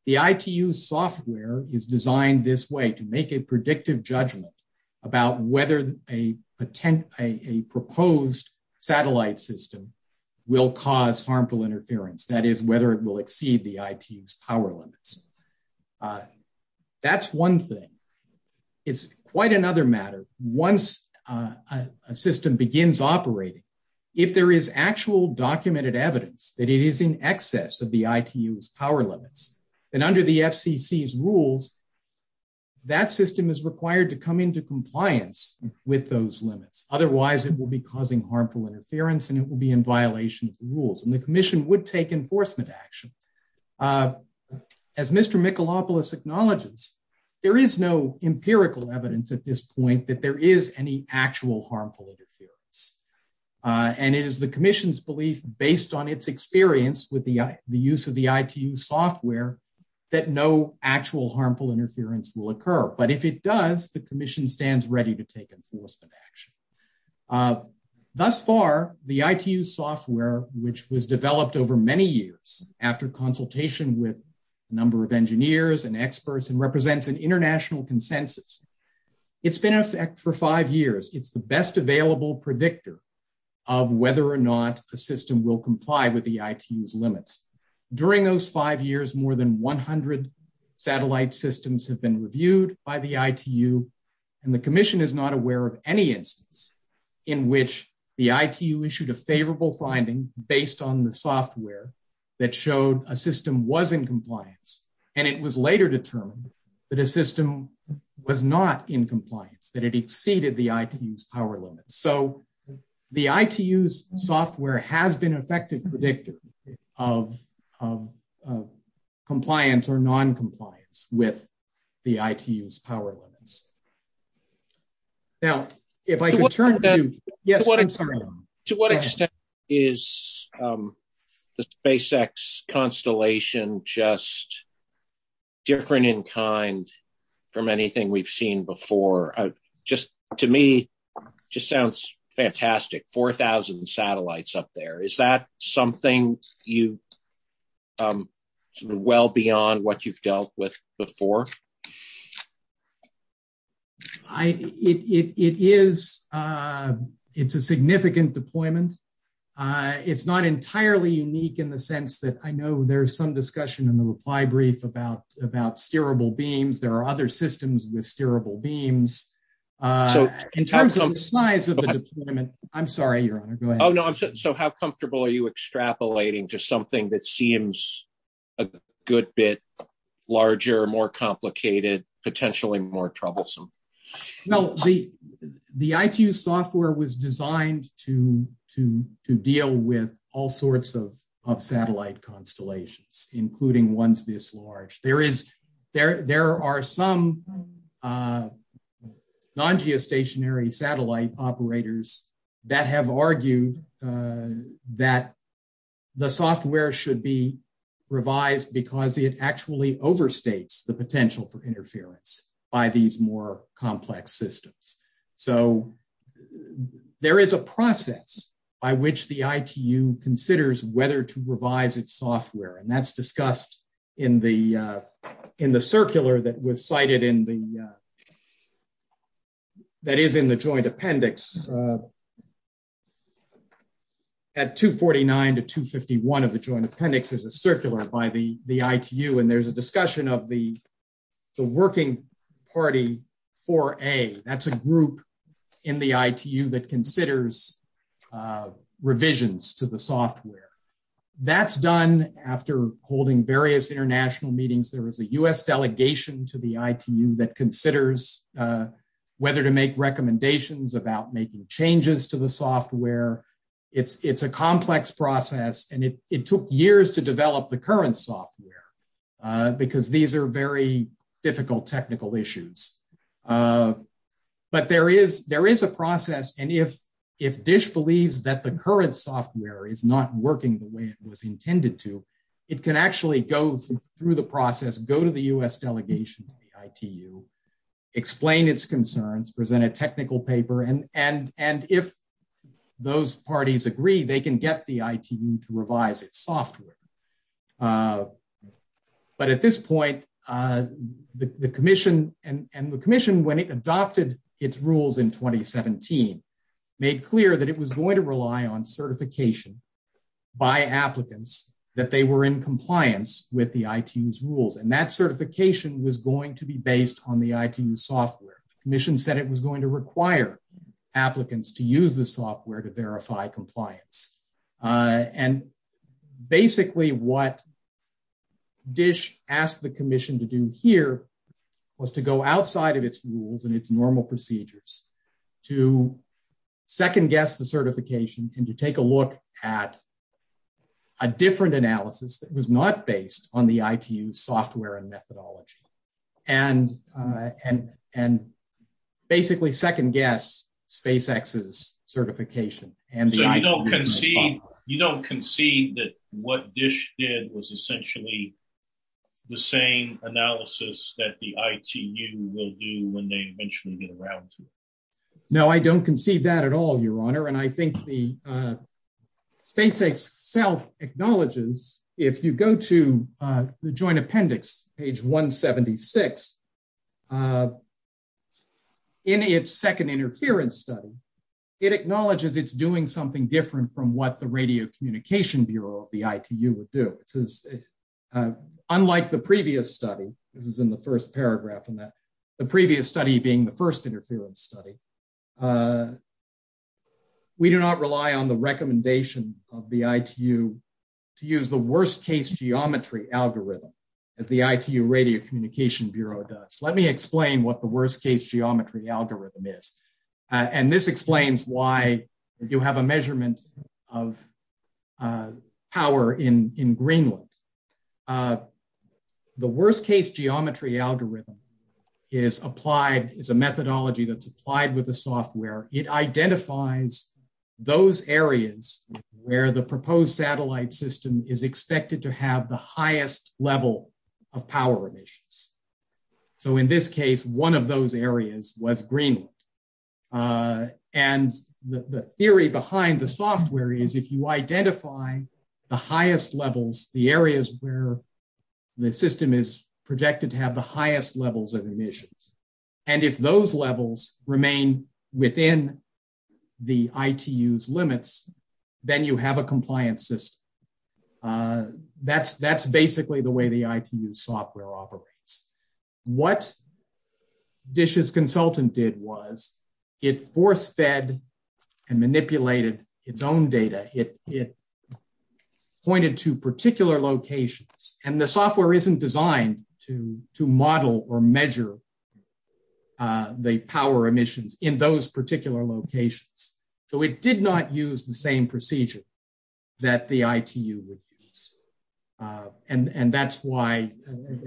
The ITU Software is designed this way To make a predictive judgment About whether a Proposed Satellite system will Cause harmful interference, that is Whether it will exceed the ITU's power Limits That's one thing It's quite another matter Once a system Begins operating, if there is Actual documented evidence that It is in excess of the ITU's Power limits, then under the FCC's Rules That system is required to come into Compliance with those limits Otherwise it will be causing harmful Interference and it will be in violation of The rules, and the Commission would take enforcement Action As Mr. Mikalopoulos acknowledges There is no empirical Evidence at this point that there is Any actual harmful interference And it is the Experience with the use of the ITU software that No actual harmful interference Will occur, but if it does, the Commission stands ready to take enforcement Action Thus far, the ITU software Which was developed over many Years after consultation With a number of engineers and Experts and represents an international Consensus, it's been Effective for five years, it's the best Available predictor of whether Or not a system will comply with The ITU's limits. During Those five years, more than 100 Satellite systems have been Reviewed by the ITU And the Commission is not aware of any Instance in which The ITU issued a favorable finding Based on the software That showed a system was in Compliance, and it was later Determined that a system Was not in compliance, that it Exceeded the ITU's power limits So the ITU's Software has been effective Predictor of Compliance or Noncompliance with The ITU's power limits Now If I could turn to To what extent is The SpaceX Constellation Just different In kind from anything We've seen before Just to me Just sounds fantastic 4,000 satellites up there Is that something Well Beyond what you've dealt with Before It Is It's a significant deployment It's not entirely Unique in the sense that I know There's some discussion in the reply brief About steerable beams There are other systems with steerable Beams In terms of the size of the deployment I'm sorry, your honor, go ahead So how comfortable are you extrapolating To something that seems A good bit Larger, more complicated Potentially more troublesome No, the ITU's software was designed To deal with All sorts of satellite Constellations, including ones This large. There is There are some Non-geostationary Satellite operators That have argued That The software should be Revised because it actually Overstates the potential for interference By these more complex Systems So there is a process By which the ITU Considers whether to revise Its software, and that's discussed In the Circular that was cited in the That is in the joint appendix At 249 to 251 of the joint appendix is a circular By the ITU, and there's a Discussion of the Working party 4A, that's a group In the ITU that considers Revisions To the software That's done after holding Various international meetings. There is a U.S. delegation to the ITU That considers Whether to make recommendations about Making changes to the software It's a complex Process, and it took years To develop the current software Because these are very Difficult technical issues But there is A process, and if Dish believes that the current software Is not working the way it was Intended to, it can actually Go through the process, go to the U.S. delegation of the ITU Explain its concerns Present a technical paper, and If those Parties agree, they can get the ITU To revise its software But at this point The commission, and the commission When it adopted its rules In 2017, made Clear that it was going to rely on certification By applicants That they were in compliance With the ITU's rules, and that Certification was going to be based On the ITU's software. The commission Said it was going to require Applicants to use the software to verify Compliance And basically What Dish Asked the commission to do here Was to go outside of its Rules and its normal procedures To second Guess the certification and to take a look At A different analysis that was not based On the ITU's software and Methodology And Basically second guess SpaceX's certification So you don't Concede that what Dish Did was essentially The same analysis That the ITU will do When they eventually get around to it No, I don't concede that at all Your honor, and I think the SpaceX self Acknowledges if you go to The joint appendix Page 176 In its second interference study It acknowledges it's doing Something different from what the radio Communication Bureau of the ITU Would do Unlike the previous study This is in the first paragraph The previous study being the first interference Study We do not rely On the recommendation of the ITU To use the worst case Geometry algorithm That the ITU radio communication Bureau does. Let me explain what the worst Case geometry algorithm is And this explains why If you have a measurement of Power In Greenland The worst case Geometry algorithm Is applied, it's a methodology That's applied with the software It identifies those Areas where the proposed Satellite system is expected To have the highest level Of power emissions So in this case, one of those Areas was Greenland And the Theory behind the software is If you identify the highest Levels, the areas where The system is projected To have the highest levels of emissions And if those levels Remain within The ITU's limits Then you have a compliant System That's basically the way the ITU Software operates What DISH's consultant did was It force fed And manipulated Its own data It pointed to particular Locations and the software isn't Designed to model Or measure The power emissions in Those particular locations So it did not use the same Procedure that the ITU Would use And that's why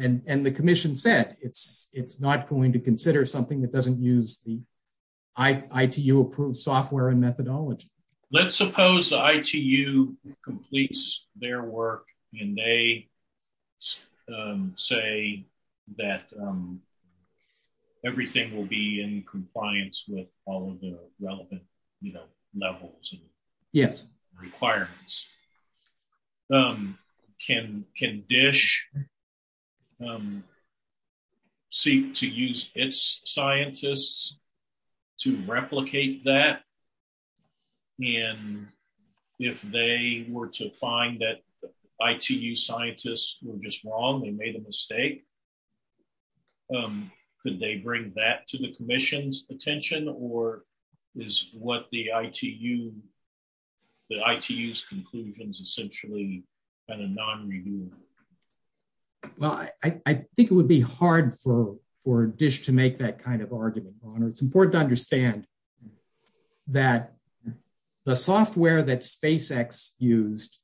And the commission said it's Not going to consider something that doesn't Use the ITU Approved software and methodology Let's suppose the ITU Completes their work And they Say that Everything will be in compliance With all of the relevant Levels and Requirements Can DISH Seek To use its scientists To replicate That And if they Were to find that ITU scientists were just wrong They made a mistake Could they bring That to the commission's attention Or is what the ITU The ITU's conclusions Essentially kind of non-reviewable Well I Think it would be hard for DISH to make that kind of argument It's important to understand That The software that SpaceX Used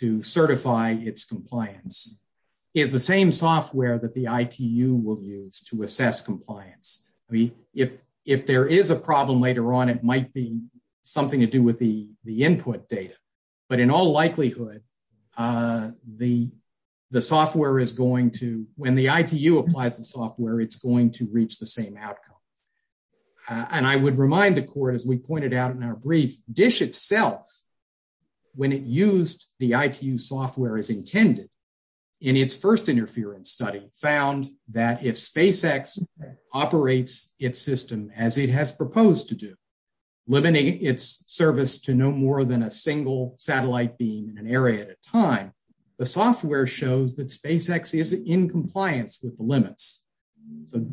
to certify Its compliance Is the same software that the ITU Will use to assess compliance If there Is a problem later on it might be Something to do with the input Data but in all likelihood The The software is going to When the ITU applies the software It's going to reach the same outcome And I would remind the court As we pointed out in our brief DISH itself When it used the ITU software As intended in its First interference study found That if SpaceX Operates its system as it Has proposed to do Limiting its service to no more Than a single satellite beam In an area at a time The software shows that SpaceX Is in compliance with the limits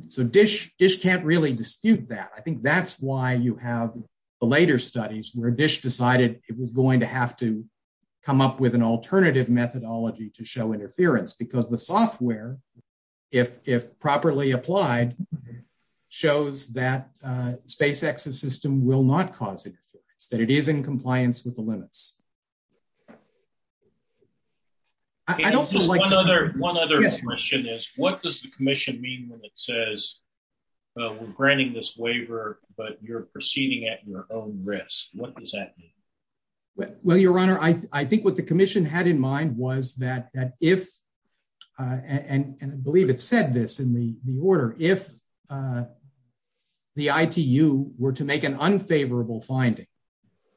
So DISH Can't really dispute that I think that's why you have the later Studies where DISH decided it was Going to have to come up with An alternative methodology to show Interference because the software If properly Applied shows That SpaceX's system Will not cause interference That it is in compliance with the limits I don't think One other question is What does the commission mean when it says We're granting this Waiver but you're proceeding at Your own risk. What does that mean? Well your honor I think what the commission had in mind was That if And I believe it said this In the order. If The ITU Were to make an unfavorable finding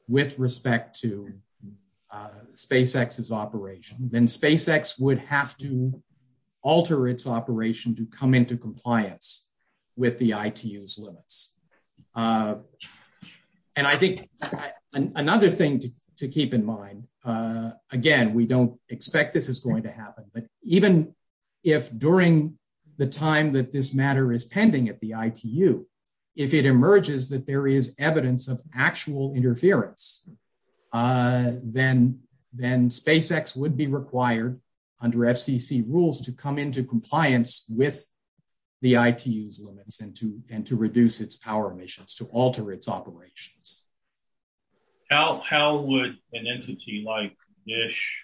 With respect to SpaceX's Operation then SpaceX would Have to alter its Operation to come into compliance With the ITU's limits And I think Another thing to keep in mind Again we don't expect This is going to happen but even If during the time That this matter is pending at the ITU If it emerges that there is Evidence of actual interference Then SpaceX would be Required under FCC rules To come into compliance with The ITU's limits And to reduce its power emissions To alter its operations How would an entity like DISH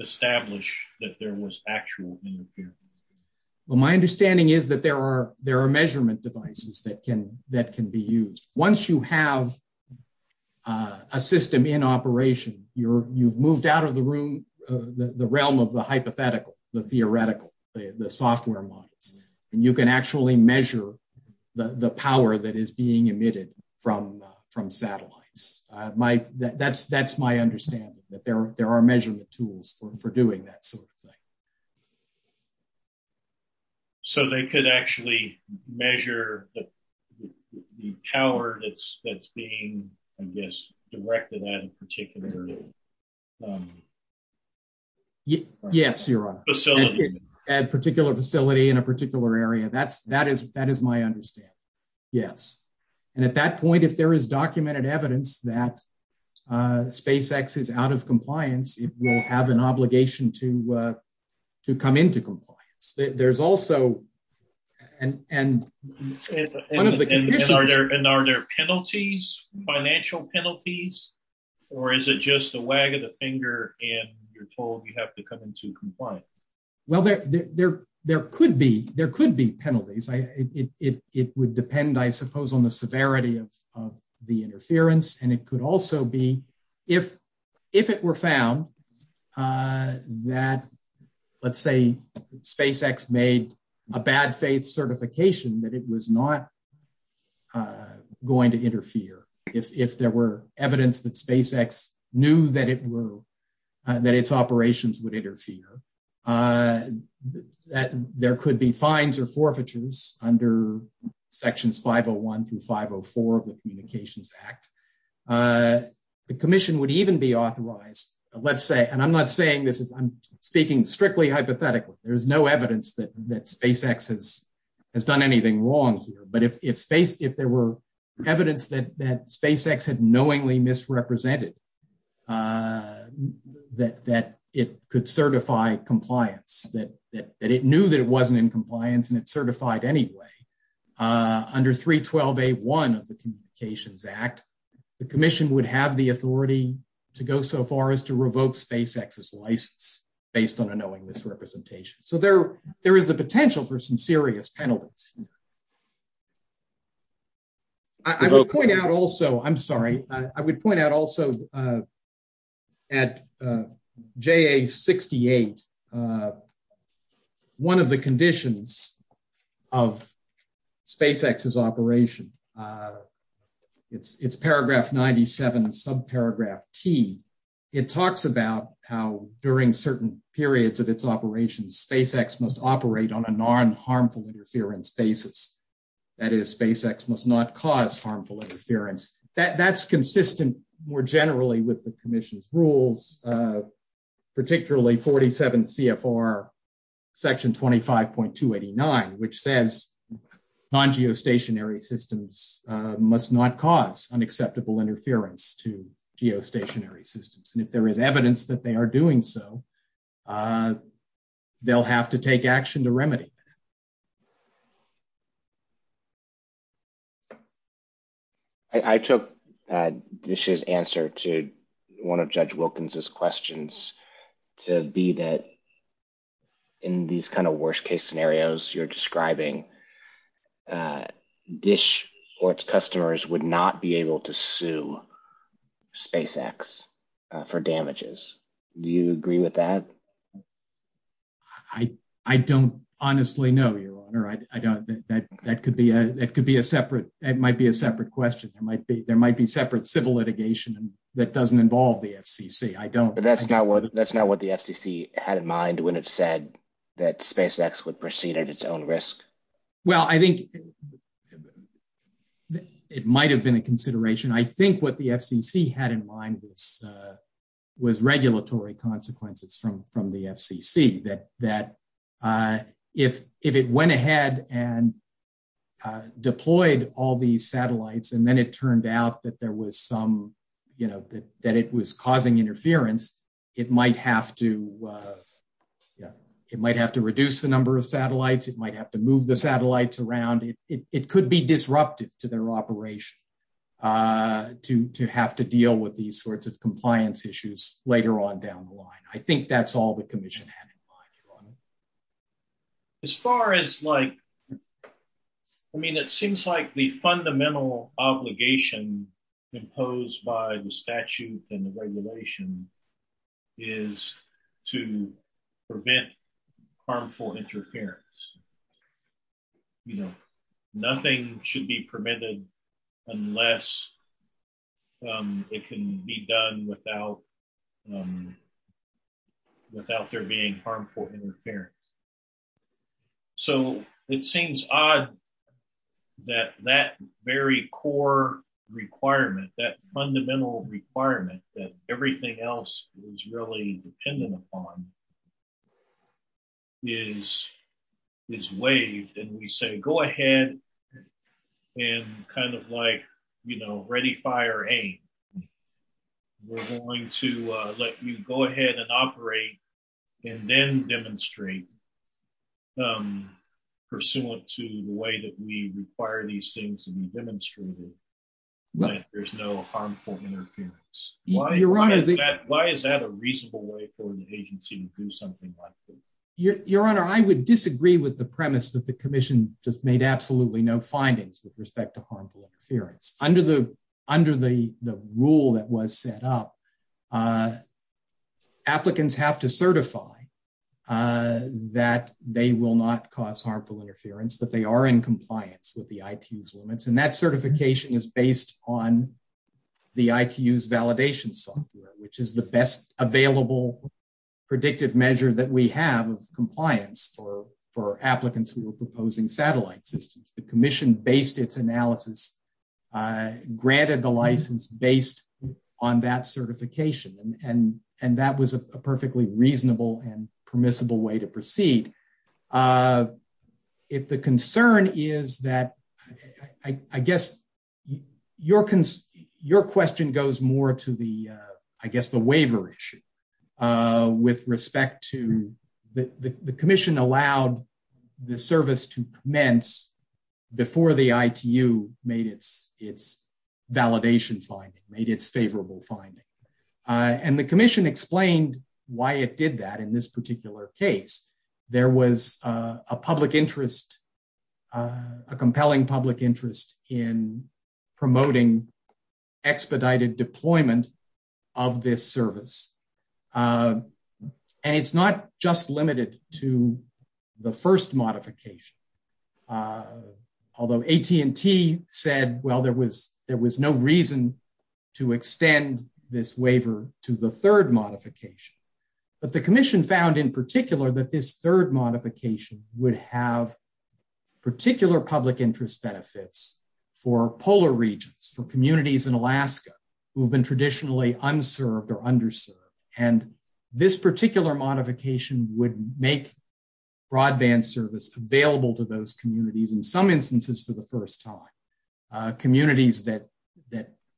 Establish that there Was actual interference Well my understanding is That there are measurement devices That can be used Once you have A system in operation You've moved out of the room The realm of the hypothetical The theoretical, the software models And you can actually measure The power that is Being emitted from Satellites That's my understanding That there are measurement tools for doing that That sort of thing So they could actually measure The power That's being Directed at a particular Facility At a particular facility In a particular area That is my understanding And at that point if there is Documented evidence that SpaceX is out of compliance It will have an obligation to Come into compliance There's also And And are there penalties Financial penalties Or is it just a Wag of the finger and you're told You have to come into compliance Well there could be There could be penalties It would depend I suppose on the Severity of the interference And it could also be If it were found That Let's say SpaceX Made a bad faith certification That it was not Going to interfere If there were evidence That SpaceX knew that it were That its operations Would interfere That there could be Fines or forfeitures under Sections 501 through 504 Of the Communications Act The commission Would even be authorized And I'm not saying this I'm speaking strictly hypothetically There's no evidence that SpaceX Has done anything wrong But if there were Evidence that SpaceX had Knowingly misrepresented That It could certify compliance That it knew that it wasn't In compliance and it certified anyway Under 312A1 Of the Communications Act The commission would have the authority To go so far as to revoke SpaceX's License based on a Knowingly misrepresentation So there is the potential for some serious penalties I would point out also I'm sorry I would point out also At JA68 One of the conditions Of SpaceX's Operation It's paragraph 97 Subparagraph T It talks about how during Certain periods of its operations SpaceX must operate on a Non-harmful interference basis That is SpaceX must not Cause harmful interference That's consistent more generally With the commission's rules Particularly 47 CFR Section 25.289 Which says Non-geostationary systems Must not cause unacceptable Interference to geostationary Systems and if there is evidence that they are Doing so They'll have to take action To remedy I took This year's answer to one of Judge Wilkins' questions To be that In these kind of worst case Scenarios you're describing Dish Or its customers would not be Able to sue SpaceX for damages Do you agree with that? I don't honestly know, Your Honor I don't That could be a separate That might be a separate question There might be separate civil litigation That doesn't involve the FCC That's not what the FCC Had in mind when it said That SpaceX would proceed at its own risk Well I think It might have been a consideration I think what the FCC had in mind Was regulatory Consequences from the FCC That If it went ahead and Deployed All these satellites and then it turned Out that there was some That it was causing interference It might have to Reduce the number of satellites Move the satellites around It could be disrupted to their operation To have to deal with these sorts of Compliance issues later on down the line I think that's all the commission had in mind As far as It seems like The fundamental obligation Imposed by the Statute and the regulation Is to Prevent Harmful interference Nothing should be permitted Unless It can be done Without Without there being Harmful interference So it seems Odd That very core Requirement that fundamental Requirement that everything else Is really dependent upon Is Waived and we say go ahead And kind of Like you know ready fire Aim We're going to let you go ahead And operate and then Demonstrate Pursuant to The way that we require these things To be demonstrated That there's no harmful Interference Why is that a reasonable way for an agency To do something like this Your honor I would disagree with the premise That the commission just made absolutely No findings with respect to harmful Interference Under the rule that was set up Applicants have to certify That They will not cause harmful interference That they are in compliance with the ITU's limits and that certification is Based on the ITU's validation software Which is the best available Predictive measure that we have Compliance for Applicants who are proposing satellite The commission based its analysis Granted the License based on that Certification and And that was a perfectly reasonable And permissible way to proceed If the concern is that I guess Your Question goes more to the I guess the waiver issue With respect to The commission allowed The service to commence Before the ITU Made its Validation finding made its favorable Finding and the commission Explained why it did that In this particular case there Was a public interest A compelling Public interest in Promoting expedited Deployment of this Service And it's not just limited To the first Modification Although AT&T Said well there was there was no reason To extend This waiver to the third Modification but the commission Found in particular that this third Modification would have Particular public interest Benefits for polar Regions for communities in Alaska Who have been traditionally unserved Or underserved and This particular modification would Make broadband Service available to those communities In some instances for the first time Communities that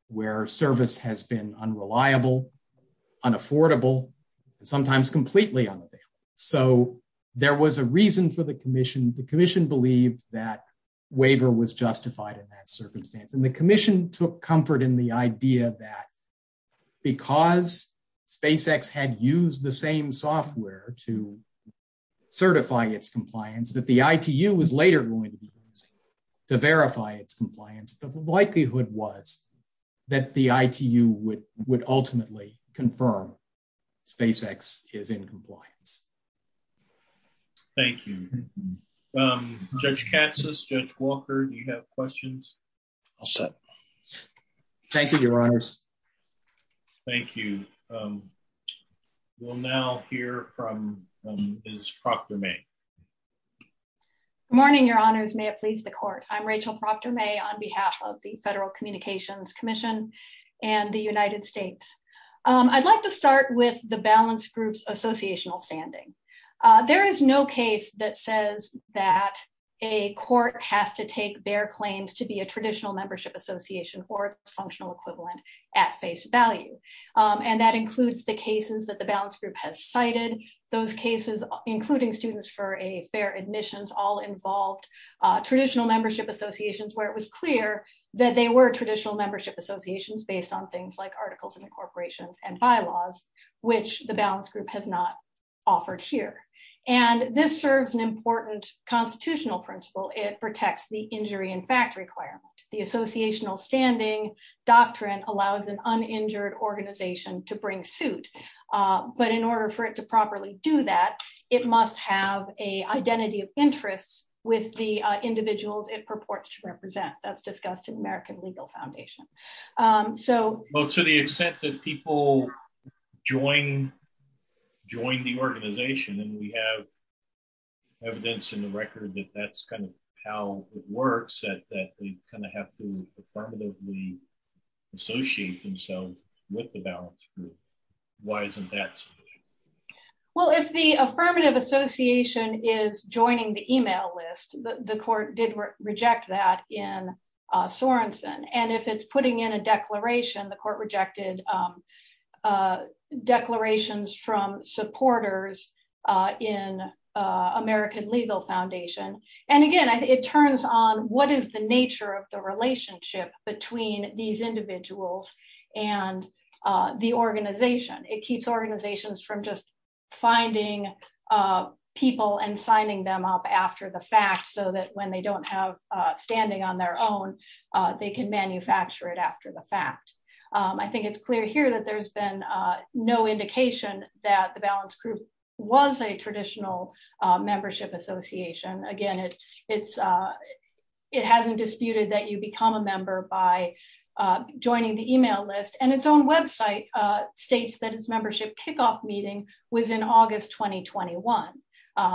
Where service has been unreliable Unaffordable Sometimes completely So there was a reason For the commission the commission believed That waiver was justified In that circumstance and the commission Took comfort in the idea that Because SpaceX had used the same Software to Certify its compliance that the ITU was later going to use To verify its compliance But the likelihood was That the ITU would Ultimately confirm SpaceX is in compliance Thank you Judge Katsas, Judge Walker Do you have questions? Thank you your honors Thank you We'll now Hear from Ms. Proctor May Good morning Your honors, may it please the court I'm Rachel Proctor May on behalf of the Federal Communications Commission And the United States I'd like to start with the balance Group's associational standing There is no case that Says that a court Has to take their claims to be A traditional membership association or Functional equivalent at face value And that includes the Cases that the balance group has cited Those cases including Students for a fair admissions all Involved traditional membership Associations where it was clear That they were traditional membership associations Based on things like articles and incorporations And bylaws which The balance group has not offered Here and this serves an Important constitutional principle It protects the injury and fact Requirement the associational standing Doctrine allows an Uninjured organization to bring Injured individuals to the Balance group and In order for it to properly Do that it must have An identity of interest With the individuals it purports To represent as discussed in American Legal Foundation So to the extent that People join Join the organization And we have Evidence in the record that that's Kind of how it works That we kind of have to Affirmatively associate Themselves with the balance group Why isn't that so? Well if the affirmative Association is joining The email list the court did Reject that in Sorenson and if it's putting in A declaration the court rejected Declarations From supporters In American Legal Foundation And again it turns on What is the nature of the relationship Between these individuals And the Organization it keeps organizations From just finding People and signing them Up after the fact so that when they Don't have standing on their own They can manufacture it After the fact I think it's Clear here that there's been no Indication that the balance group Was a traditional Membership association again It's It hasn't disputed that you become a member By joining the email List and its own website States that its membership kickoff meeting Was in August 2021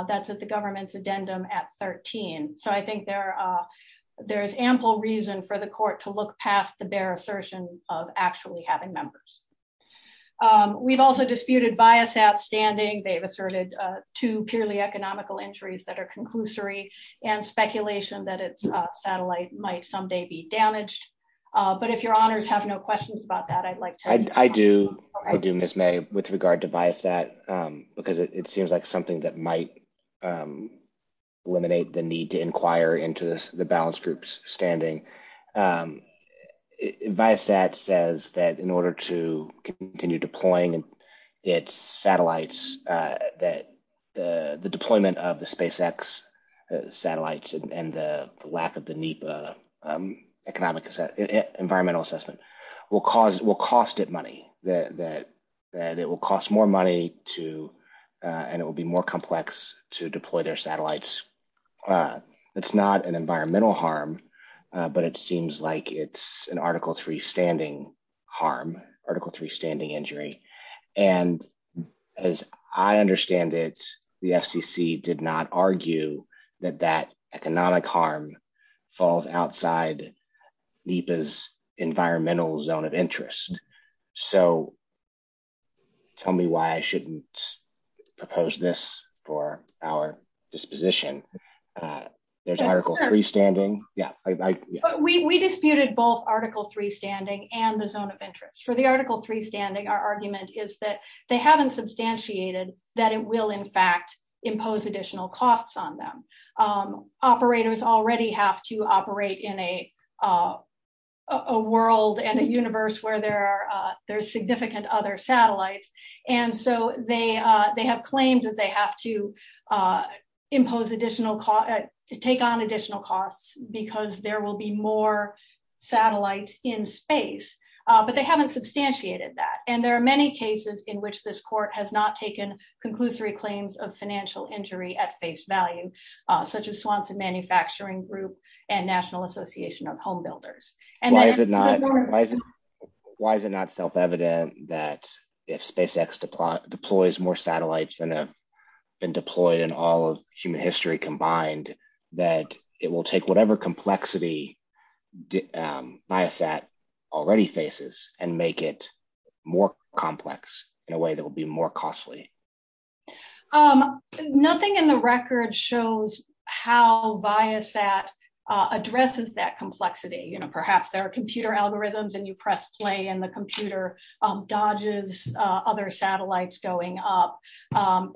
That's at the government's Addendum at 13 so I think There's ample Reason for the court to look past the Bare assertion of actually having Members We've also disputed bias at standing They've asserted two purely Economical entries that are conclusory And speculation that it's Satellite might someday be damaged But if your honors have no Questions about that I'd like to I do I do miss may with regard to Bias that because it seems Like something that might Eliminate the need to inquire Into this the balance groups Standing Advice that says that in Order to continue deploying Its satellites That the deployment Of the space x satellites And the lack of the NEPA economic Environmental assessment will cause Will cost it money that That it will cost more money To and it will be more Complex to deploy their satellites It's not An environmental harm but it Seems like it's an article Three standing harm article Three standing injury and As I understand It the FCC did not Argue that that economic Harm falls outside NEPA's Environmental zone of interest So Tell me why I shouldn't Propose this for Our disposition There's article three standing Yeah we Disputed both article three standing And the zone of interest for the article Three standing our argument is that They haven't substantiated that It will in fact impose additional Costs on them Operators already have to operate In a World and a universe Where there are there's significant Other satellites and so They they have claims that they have To impose Additional cost to take on additional Costs because there will be more Satellites in space But they haven't substantiated that And there are many cases in which this Court has not taken conclusive Claims of financial injury at face Value such as Swanson Manufacturing Group and National Association of Home Builders Why is it not Self-evident that If SpaceX deploys More satellites than have been Deployed in all of human history Combined that it will take Whatever complexity Biosat Already faces and make it More complex in a way That will be more costly Nothing in the Record shows how Biosat addresses That complexity you know perhaps there Are computer algorithms and you press play And the computer dodges Other satellites going up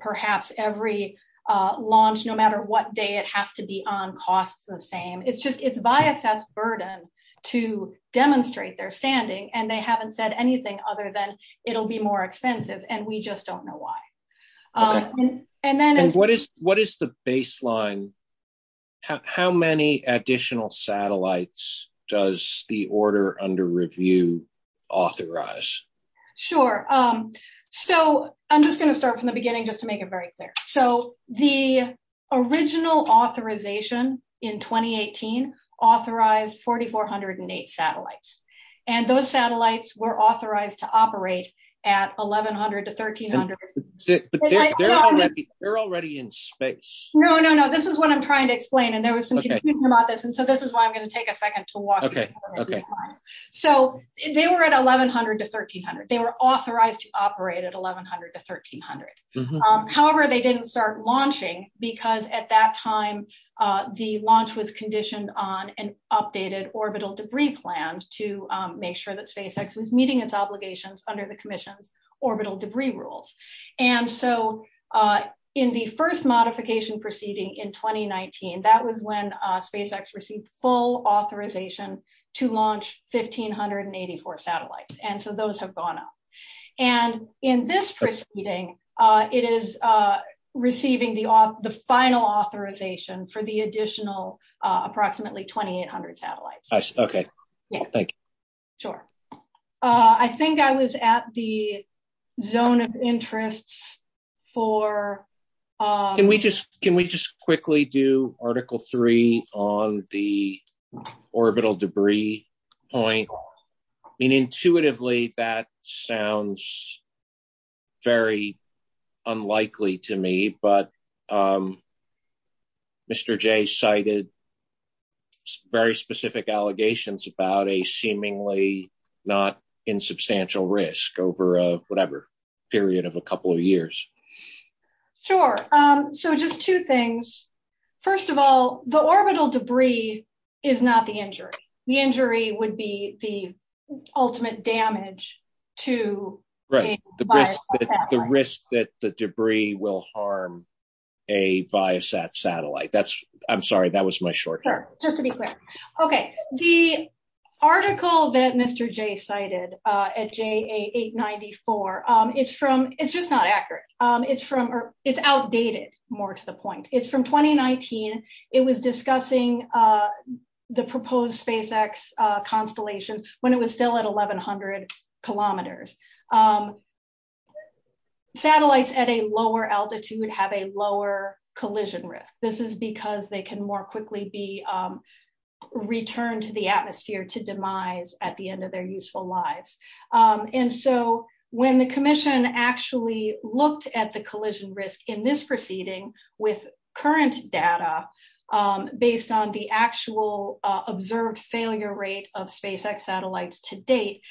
Perhaps every Launch no matter what They have to be on cost The same it's just it's Biosat's Burden to demonstrate Their standing and they haven't said anything Other than it'll be more expensive And we just don't know why And then What is the baseline How many additional Satellites does The order under review Authorize? Sure so I'm just going to start from the beginning just to make it very clear So the Original authorization In 2018 authorized 4,408 satellites And those satellites were authorized To operate at 1,100 to 1,300 They're already in space No no no this is what I'm trying to Explain and there was some confusion about this So this is why I'm going to take a second to walk So they Were at 1,100 to 1,300 They were authorized to operate at 1,100 To 1,300 However they didn't start launching Because at that time The launch was conditioned on An updated orbital debris plan To make sure that SpaceX Was meeting its obligations under the commission Orbital debris rules And so In the first modification proceeding In 2019 that was when SpaceX received full authorization To launch 1,584 satellites and so those Satellites have gone up And in this proceeding It is Receiving the final authorization For the additional Approximately 2,800 satellites Okay Sure I think I was at the Zone of interest For Can we just quickly do Article 3 on the Orbital debris Point I mean intuitively that Sounds Very unlikely To me but Mr. J Cited Very specific allegations about A seemingly not Insubstantial risk over Whatever period of a couple of years Sure So just two things First of all the orbital debris Is not the injury The injury would be the Ultimate damage To a The risk that the debris Will harm a Biosat satellite I'm sorry that was my short answer Okay The article that Mr. J cited At JA894 Is from It's just not accurate It's outdated more to the point It's from 2019 It was discussing The proposed SpaceX Constellation when it was still at 1,100 kilometers Satellites at a lower altitude Have a lower collision risk This is because they can more quickly Be returned To the atmosphere to demise At the end of their useful lives And so when the commission Actually looked at the Current data Based on the actual Observed failure rate of SpaceX Satellites to date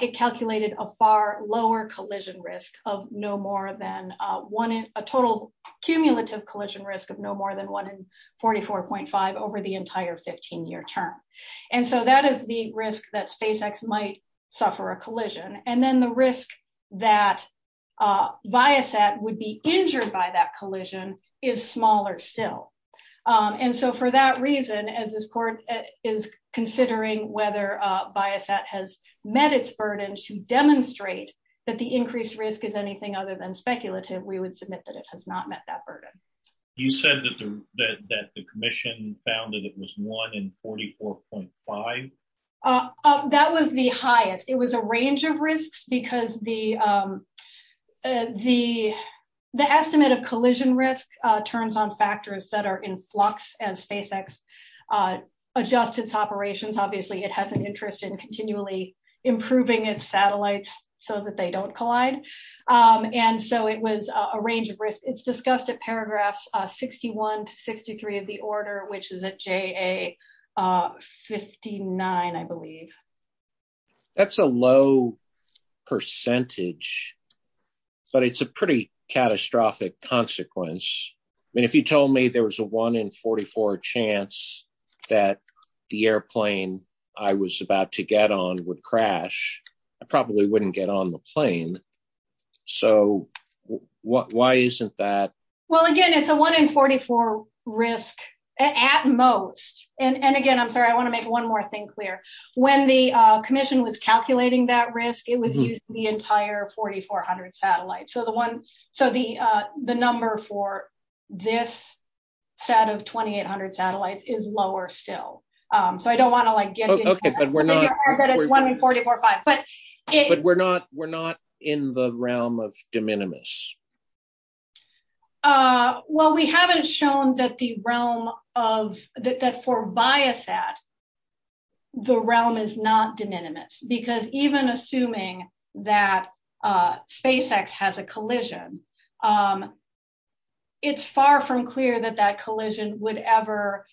It calculated a far lower collision Risk of no more than A total cumulative Collision risk of no more than 1 in 44.5 over the entire 15 year term And so that is the risk that SpaceX might Suffer a collision And then the risk that Biosat would be injured By that collision is smaller Still For that reason as this court Is considering whether Biosat has met its burden To demonstrate that the Increased risk is anything other than speculative We would submit that it has not met that burden You said that The commission found that it was 1 in 44.5 That was the highest It was a range of risks Because the The estimate of collision Risk turns on factors that Are in flux as SpaceX Adjusts its operations Obviously it has an interest in continually Improving its satellites So that they don't collide And so it was a range Of risks. It's discussed at paragraphs 61 to 63 of the order Which is at JA 59 I believe That's a low Percentage But it's a pretty Catastrophic consequence I mean if you told me there was a 1 In 44 chance That the airplane I was about to get on would crash I probably wouldn't get on The plane So why isn't that Well again it's a 1 in 44 Risk at most And again I'm sorry I want to make one more thing clear When the commission was calculating that risk It was used for the entire 4400 satellites So the number for This set of 2800 satellites is lower still So I don't want to get But it's 1 in 44 But we're not In the realm of De minimis Well we haven't Shown that the realm of That for Biosat The realm is not De minimis Because even assuming that SpaceX has a collision It's far From clear that that collision Would ever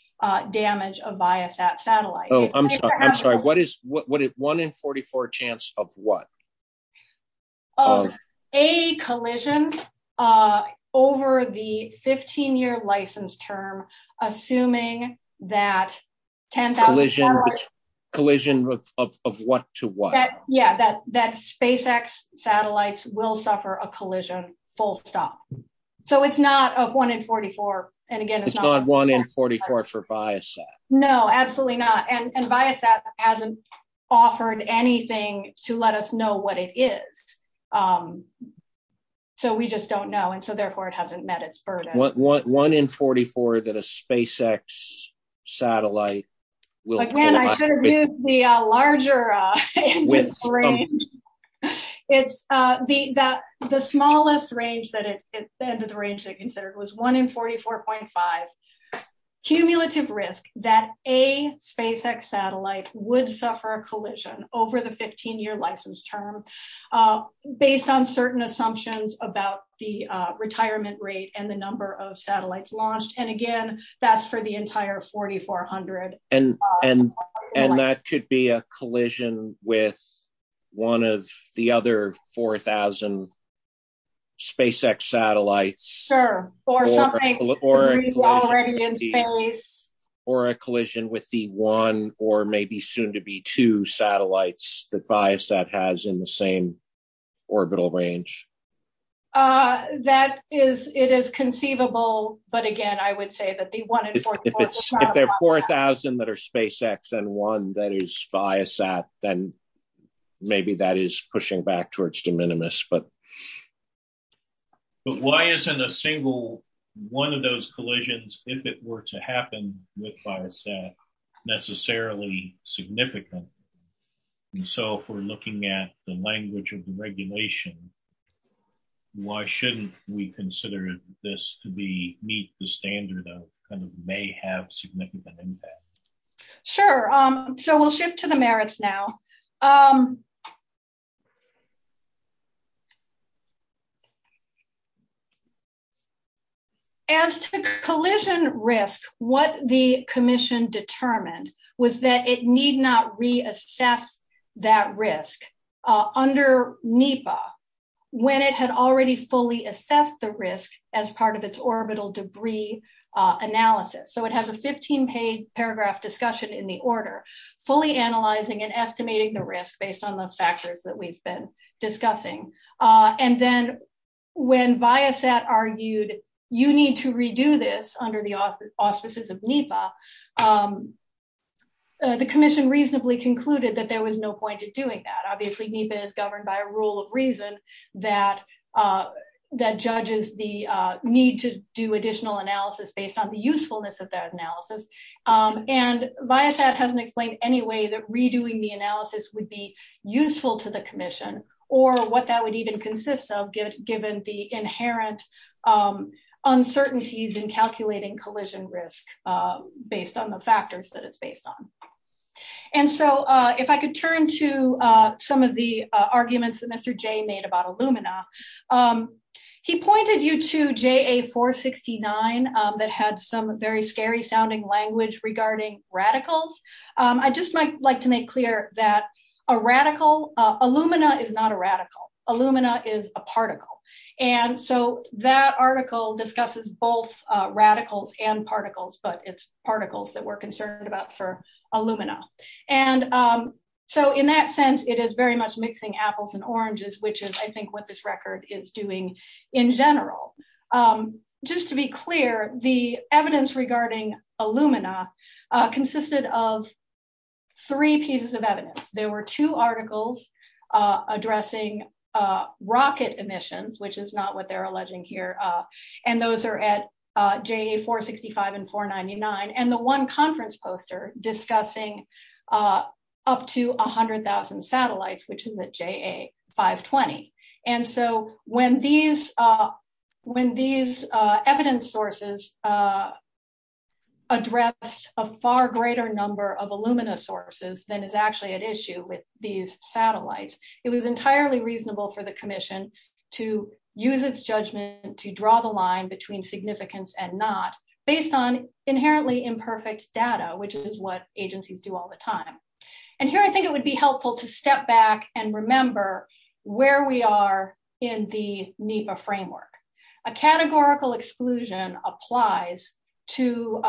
damage A Biosat satellite I'm sorry what is 1 in 44 chance of what Of a Collision Over the 15 year License term Assuming that Collision Of what to what Yeah that SpaceX Satellites will suffer a collision Full stop So it's not 1 in 44 It's not 1 in 44 for Biosat No absolutely not And Biosat hasn't Offered anything to let us know What it is So we just don't know And so therefore it hasn't met its burden 1 in 44 that a SpaceX Satellite Again I should have used the Larger end of the range It's The smallest range That it's the end of the range Was 1 in 44.5 Cumulative risk That a SpaceX satellite Would suffer a collision Over the 15 year license term Based on certain Assumptions about the Retirement rate and the number of Entire 4400 And that could be A collision with One of the other 4000 SpaceX Satellites Sure Or a Collision with the 1 Or maybe soon to be 2 Satellites that Biosat has In the same orbital range That Is it is conceivable But again I would say that 1 in 44 4000 that are SpaceX and 1 That is Biosat Then maybe that is pushing Back towards de minimis But why isn't A single one of those Collisions if it were to happen With Biosat Necessarily significant And so if we're looking At the language of the regulation Why shouldn't We consider this to be Meet the standard of May have significant impact Sure so we'll Shift to the merits now As to the Collision risk what the Commission determined was That it need not reassess That risk Under NEPA When it had already fully Assessed the risk as part of Its orbital debris analysis So it has a 15 page Paragraph discussion in the order Fully analyzing and estimating The risk based on the factors that we've been Discussing And then when Biosat Argued you need to redo This under the auspices of NEPA The commission reasonably Concluded that there was no point in doing that Obviously NEPA is governed by A rule of reason that Judges the Need to do additional analysis Based on the usefulness of that analysis And Biosat Hasn't explained any way that redoing The analysis would be useful to The commission or what that would Even consist of given the Inherent Uncertainties in calculating collision Risk based on the factors That it's based on And so if I could Turn to some of the Arguments that Mr. Jay made about Illumina He pointed You to JA469 That had some very Scary sounding language regarding Radicals. I just might like To make clear that a radical Illumina is not a radical Illumina is a particle And so that article Discusses both radicals And particles but it's particles That we're concerned about for Illumina And so In that sense it is very much mixing Apples and oranges which is I think what this Record is doing in general Just to be clear The evidence regarding Illumina consisted Of three pieces Of evidence. There were two articles Addressing Rocket emissions which is Not what they're alleging here And those are at JA465 And the one conference poster Discussing Up to 100,000 satellites Which is at JA520 And so when These Evidence sources Address A far greater number of Illumina Sources than is actually at issue With these satellites It was entirely reasonable for the commission To use its judgment To draw the line between significance And not based on inherently Imperfect data which is what Agencies do all the time And here I think it would be helpful to step back And remember where we Are in the NEPA Framework. A categorical Exclusion applies To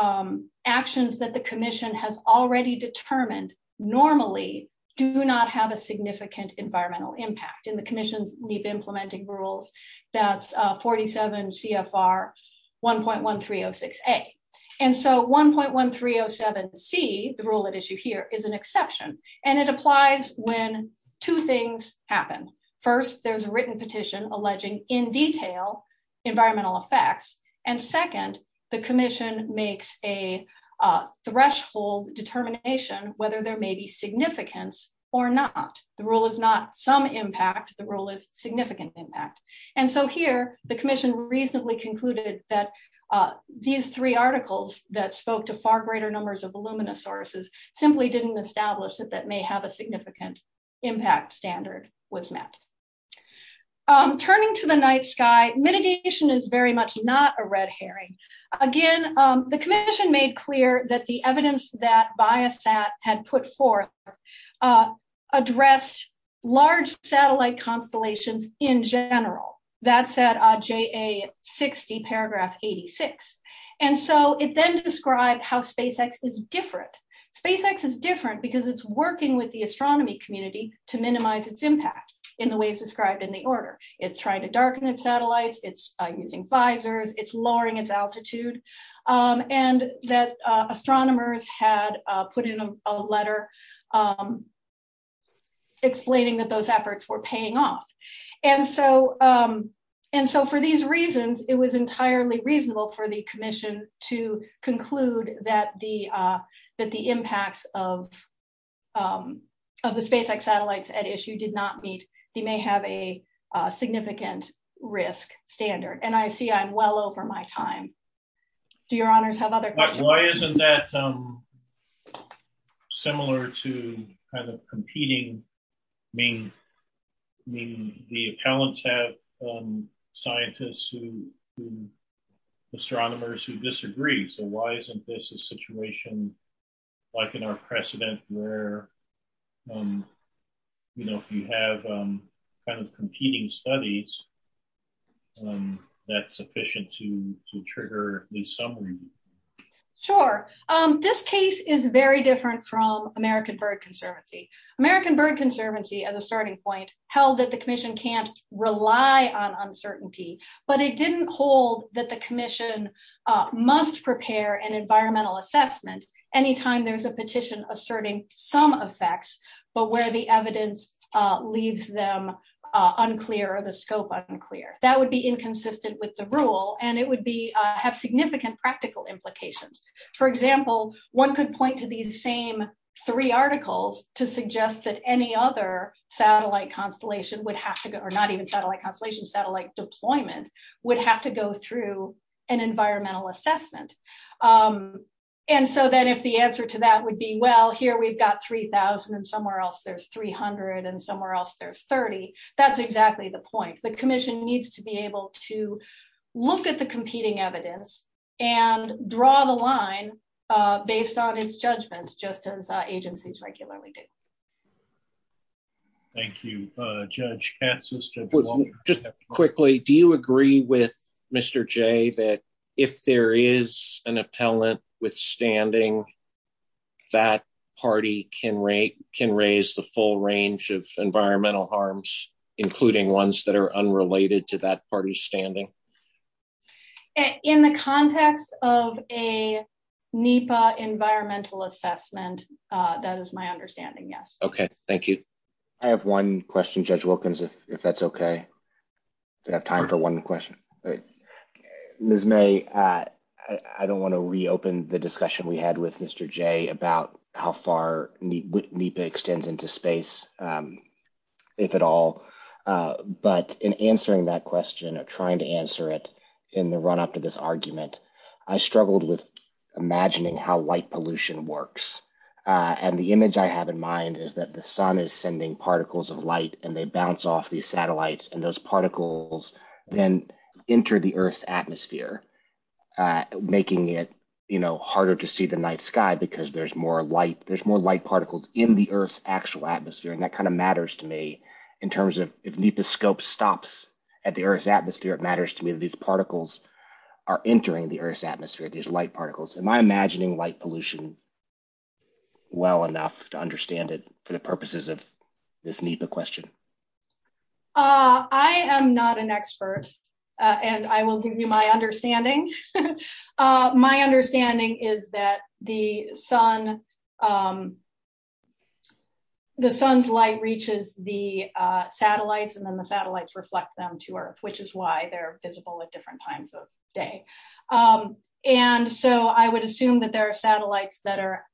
actions that The commission has already determined Normally do not Have a significant environmental impact In the commission's NEPA implementing rules That's 47 CFR 1.1306A And so 1.1307C The rule at issue here is an exception And it applies when Two things happen First there's a written petition alleging In detail environmental Effects and second The commission makes a Threshold determination Whether there may be significance Or not. The rule is not Some impact. The rule is significant And so here The commission recently concluded that These three articles That spoke to far greater numbers of Illumina sources simply didn't Establish that that may have a significant Impact standard was met Turning to The night sky, mitigation is very Much not a red herring Again the commission made clear That the evidence that Biosat had put forth Addressed large Satellite constellations in general That's at JA 60 paragraph 86 And so it then Described how SpaceX is different SpaceX is different because it's Working with the astronomy community To minimize its impact in the ways Described in the order. It's trying to Darken its satellites, it's using visors It's lowering its altitude And that astronomers Had put in a Letter Explaining That those efforts were paying off And so And so for these reasons it was Entirely reasonable for the commission To conclude that The impact Of The SpaceX satellites at issue did not Meet, they may have a Significant risk standard And I see I'm well over my time Do your honors have other Questions? Isn't that Similar to Kind of competing Meaning The talents have Scientists who Astronomers who disagree So why isn't this a situation Like in our precedent Where You know if you have Kind of competing studies That's Sufficient to trigger These summaries? Sure, this case is very Different from American Bird Conservancy American Bird Conservancy At a starting point held that the commission Can't rely on uncertainty But it didn't hold that The commission must Prepare an environmental assessment Anytime there's a petition asserting Some effects but where The evidence leaves them Unclear or the scope Unclear. That would be inconsistent With the rule and it would Have significant practical implications For example, one could point to These same three articles To suggest that any other Satellite constellation would have To go, or not even satellite constellation, satellite Deployment would have to go through An environmental assessment And so Then if the answer to that would be well Here we've got 3,000 and somewhere else There's 300 and somewhere else there's 30, that's exactly the point I think the commission needs to be able To look at the competing Evidence and draw The line based on Its judgment just as agencies Regularly do Thank you Judge Katz Just quickly, do you agree with Mr. J that if there Is an appellant Withstanding That party can Raise the full range of The appellant Unrelated to that party's standing In the context of A NEPA Environmental assessment That is my understanding, yes Okay, thank you I have one question Judge Wilkins If that's okay We have time for one question Ms. May I don't want to reopen the discussion We had with Mr. J about How far NEPA extends Into space If at all But in answering that question Trying to answer it In the run up to this argument I struggled with imagining how White pollution works And the image I had in mind is that The sun is sending particles of light And they bounce off these satellites And those particles Then enter the earth's atmosphere Making it Harder to see the night sky Because there's more light Particles in the earth's actual atmosphere And that kind of matters to me In terms of if NEPA's scope stops At the earth's atmosphere, it matters to me If these particles are entering the earth's Atmosphere, these light particles Am I imagining white pollution Well enough to understand it For the purposes of this NEPA question I am not an expert And I will give you my understanding My understanding Is that the sun The sun's light Reaches the satellites And then the satellites reflect them to earth Which is why they're visible at different times Of the day And so I would assume that there are Satellites that are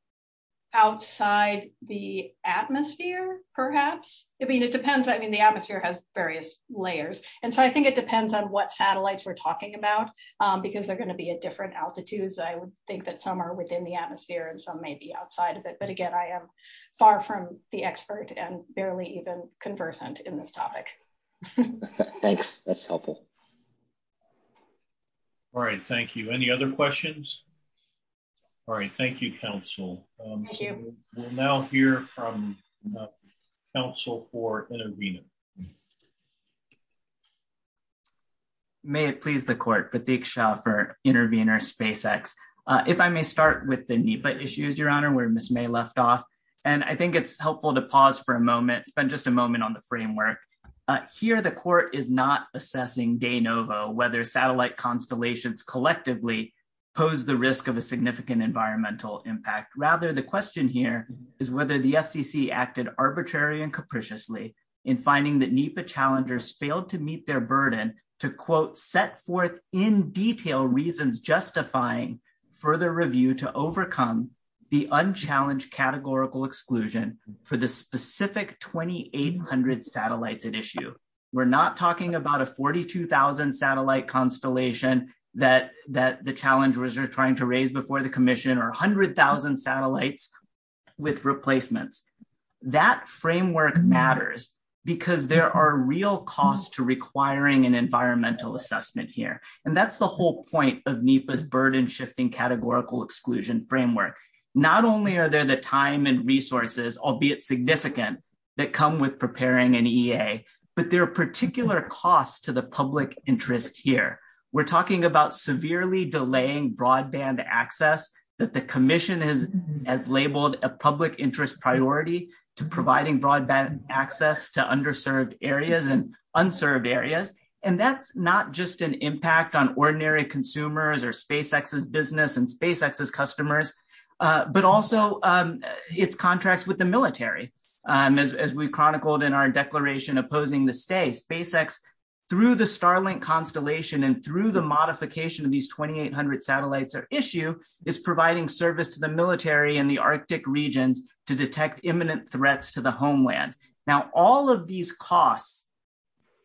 Outside the atmosphere Perhaps The atmosphere has various layers And so I think it depends on what The conditions are going to be at different altitudes I would think that some are within the atmosphere And some may be outside of it But again, I am far from the expert And barely even conversant in this topic Thanks. That's helpful All right. Thank you Any other questions? All right. Thank you, counsel Thank you We'll now hear from counsel For intervening May it please the court The big shot for intervener SpaceX If I may start With the NEPA issues, your honor Where Ms. May left off And I think it's helpful to pause for a moment Spend just a moment on the framework Here the court is not assessing De novo whether satellite constellations Collectively pose the risk Of a significant environmental impact Rather the question here Is whether the FCC acted arbitrary And capriciously in finding That NEPA challengers failed to meet their burden To quote Set forth in detail reasons Justifying further review To overcome the unchallenged Categorical exclusion For the specific 2800 Satellites at issue We're not talking about a 42,000 Satellite constellation That the challengers are trying To raise before the commission Or 100,000 satellites With replacements That framework matters Because there are real Costs to requiring an environmental Assessment here and that's the whole Point of NEPA's burden shifting Categorical exclusion framework Not only are there the time and resources Albeit significant That come with preparing an EA But there are particular costs To the public interest here We're talking about severely delaying Broadband access That the commission has labeled A public interest priority To providing broadband access To underserved areas and Unserved areas and that's Not just an impact on ordinary Consumers or SpaceX's business And SpaceX's customers But also Its contracts with the military As we chronicled in our declaration Opposing the stay, SpaceX Through the Starlink constellation And through the modification of these 2800 Satellites at issue is providing Service to the military in the Arctic Regions to detect imminent threats To the homeland. Now all Of these costs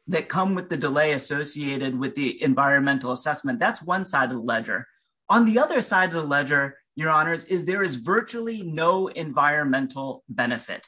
That come with the delay associated With the environmental assessment, that's one Side of the ledger. On the other side Of the ledger, your honors, is there is Virtually no environmental Benefit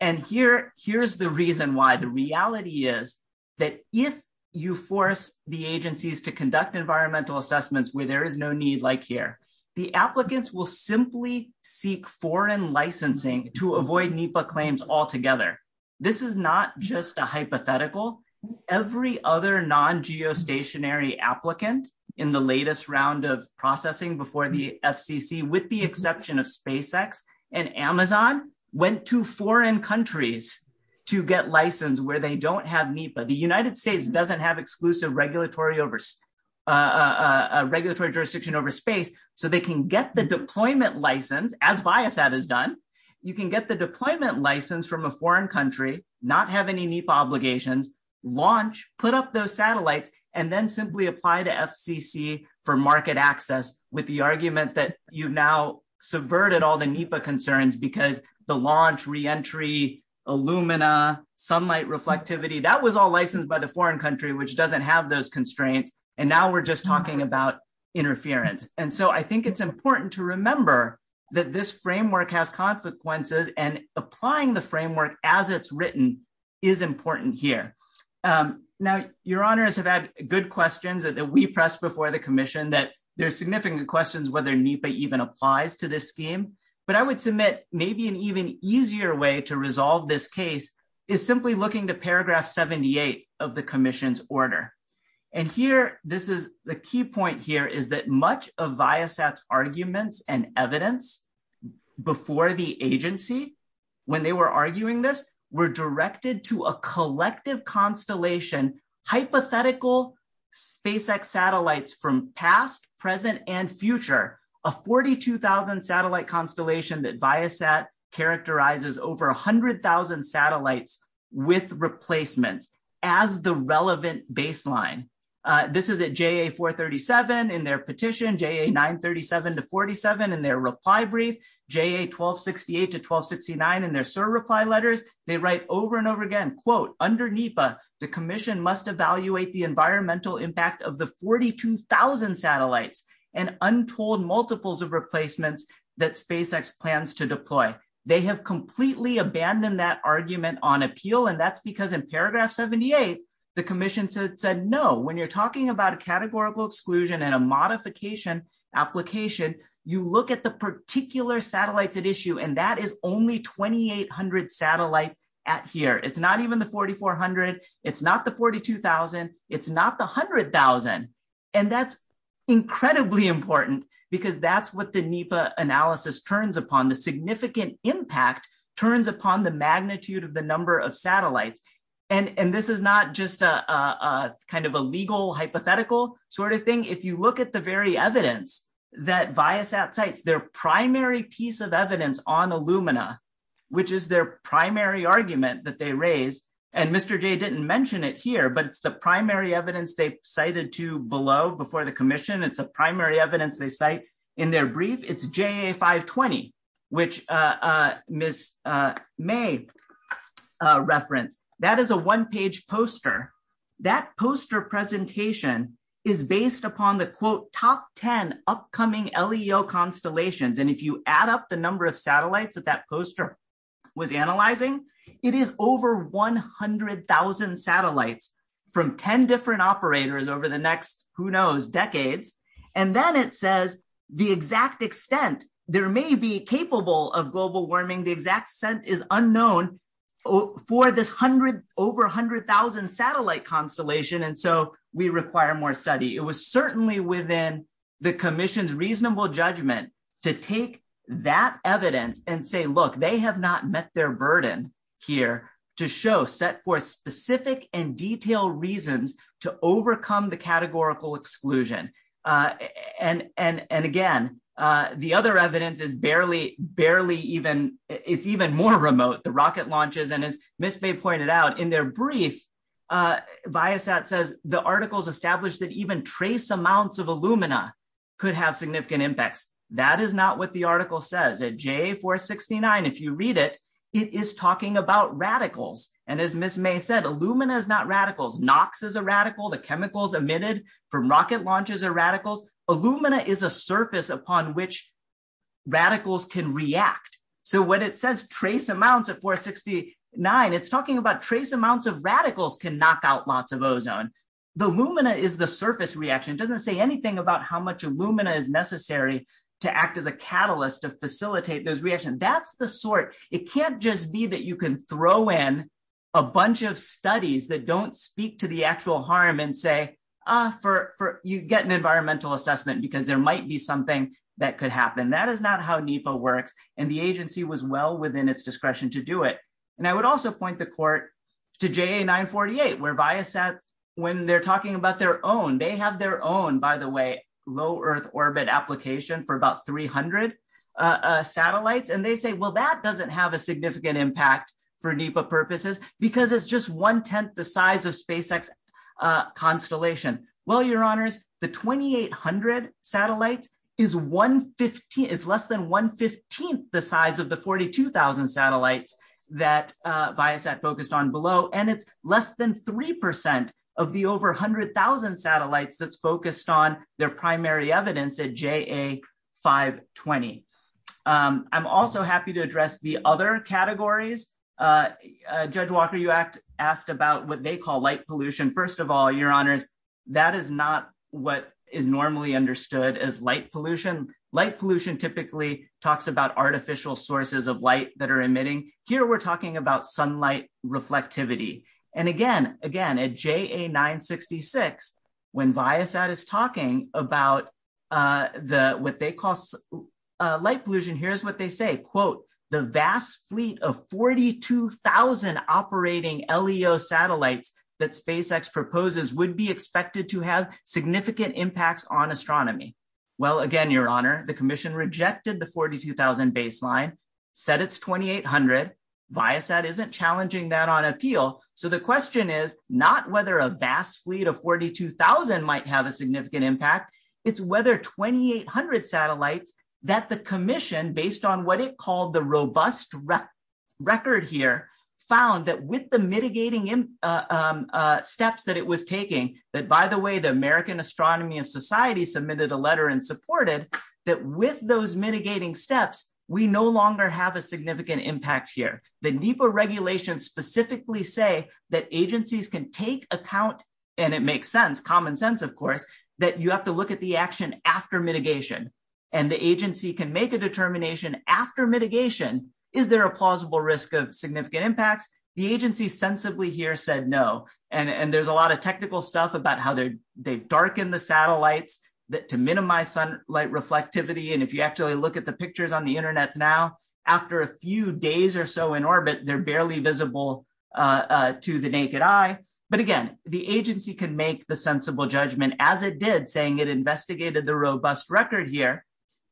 and here Is the reason why. The reality Is that if You force the agencies to conduct Environmental assessments where there is no Need like here, the applicants Will simply seek foreign Licensing to avoid NEPA Claims altogether. This is Not just a hypothetical. Every other non-geostationary Applicant in the Latest round of processing before The FCC with the exception Of SpaceX and Amazon Went to foreign countries To get licensed where they Don't have NEPA. The United States doesn't Have exclusive regulatory Over space So they can get the Deployment license as Biosat Has done. You can get the Deployment license from a foreign country Not have any NEPA obligations Launch, put up those satellites And then simply apply to FCC For market access with The argument that you've now Subverted all the NEPA concerns because The launch, reentry, Illumina, sunlight reflectivity That was all licensed by the foreign Country which doesn't have those constraints And now we're just talking about Interference. And so I think it's important To remember that this framework Has consequences and Applying the framework as it's written Is important here. Now, your honors have Had good questions that we pressed Before the commission that there's significant Questions whether NEPA even applies To this scheme. But I would submit Maybe an even easier way to resolve This case is simply looking To paragraph 78 of the Commission's order. And here This is the key point here Is that much of Biosat's Arguments and evidence Before the agency When they were arguing this Were directed to a collective Constellation hypothetical SpaceX satellites From past, present, and Future. A 42,000 Satellite constellation that Biosat Characterizes over 100,000 Satellites with replacements As the relevant Baseline. This is at JA-437 in their petition JA-937-47 In their reply brief. JA-1268 To 1269 in their SIR reply letters. They write over and over Again, quote, under NEPA the Commission must evaluate the environmental Impact of the 42,000 Satellites and untold Multiples of replacements that SpaceX plans to deploy. They Have completely abandoned that Argument on appeal and that's because in Paragraph 78 the Commission Said no. When you're talking about a Categorical exclusion and a modification Application, you Look at the particular satellites At issue and that is only 2,800 satellites at here. It's not even the 4,400. It's Not the 42,000. It's not The 100,000. And that's Incredibly important Because that's what the NEPA analysis Turns upon. The significant Impact turns upon the magnitude Of the number of satellites. And this is not just Kind of a legal hypothetical Sort of thing. If you look at the very Evidence that Viasat Cites, their primary piece of Evidence on Illumina, which Is their primary argument that They raise, and Mr. J didn't mention It here, but the primary evidence They cited to below before The Commission, it's the primary evidence they Briefed. It's JA520, Which Ms. May Referenced. That is a one-page Poster. That poster Presentation is based Upon the, quote, top 10 Upcoming LEO constellations. And if you add up the number of satellites That that poster was analyzing, It is over 100,000 satellites From 10 different operators over The next, who knows, decades. And then it says the exact Extent, there may be Capable of global warming, the exact Extent is unknown For this over 100,000 Satellite constellation, and so We require more study. It was Certainly within the Commission's Reasonable judgment to take That evidence and say, Look, they have not met their burden Here to show, set forth Specific and detailed reasons To overcome the categorical Exclusion. And Again, the Other evidence is barely, barely Even, it's even more remote. The rocket launches, and as Ms. May pointed Out, in their brief, Biosat says the articles Established that even trace amounts of Illumina could have significant Impacts. That is not what the article Says. At JA469, if You read it, it is talking about Radicals. And as Ms. May said, Illumina is not radicals. NOx is a Surface upon which radicals can React. So when it says Trace amounts at 469, it's Talking about trace amounts of radicals Can knock out lots of ozone. The Illumina is the surface reaction. It doesn't say anything about how much Illumina Is necessary to act as a Catalyst to facilitate those reactions. That's the sort, it can't just be That you can throw in a bunch Of studies that don't speak to The actual harm and say, Ah, for illumina, You get an environmental assessment Because there might be something that could Happen. That is not how NEPA works. And the agency was well within its Discretion to do it. And I would also point The court to JA948 Where Biosat, when they're talking About their own, they have their own, By the way, low earth orbit Application for about 300 Satellites. And they say, well, That doesn't have a significant impact For NEPA purposes because it's Just one-tenth the size of SpaceX Constellation. Well, Your honors, the 2800 Satellites is Less than one-fifteenth The size of the 42,000 Satellites that Biosat Focused on below. And it's less than 3% of the over 100,000 satellites that's focused On their primary evidence at JA520. I'm also happy to Address the other categories. Judge Walker, you In fact, asked about what they call Light pollution. First of all, your honors, That is not what Is normally understood as light Pollution. Light pollution typically Talks about artificial sources of Light that are emitting. Here we're talking About sunlight reflectivity. And again, again, at JA966, when Biosat is talking about The, what they call Light pollution, here's what they say. Quote, the vast fleet Of 42,000 Operating LEO satellites That SpaceX proposes would be Expected to have significant Impacts on astronomy. Well, Again, your honor, the commission rejected The 42,000 baseline, Said it's 2800. Biosat isn't challenging that on appeal. So the question is not whether A vast fleet of 42,000 Might have a significant impact. It's whether 2800 satellites That the commission, based On what it called the robust Record here, found That with the mitigating Steps that it was taking, That by the way, the American Astronomy And Society submitted a letter and Supported, that with those Mitigating steps, we no longer Have a significant impact here. The NEPA regulations specifically Say that agencies can take Account, and it makes sense, Common sense, of course, that you have to look At the action after mitigation. And the agency can make a determination After mitigation, is there A plausible risk of significant impact? The agency sensibly here said No, and there's a lot of technical Stuff about how they darken the Satellites to minimize Sunlight reflectivity, and if you actually Look at the pictures on the internet now, After a few days or so in orbit, They're barely visible To the naked eye. But again, The agency can make the sensible Judgment, as it did, saying it investigated The robust record here,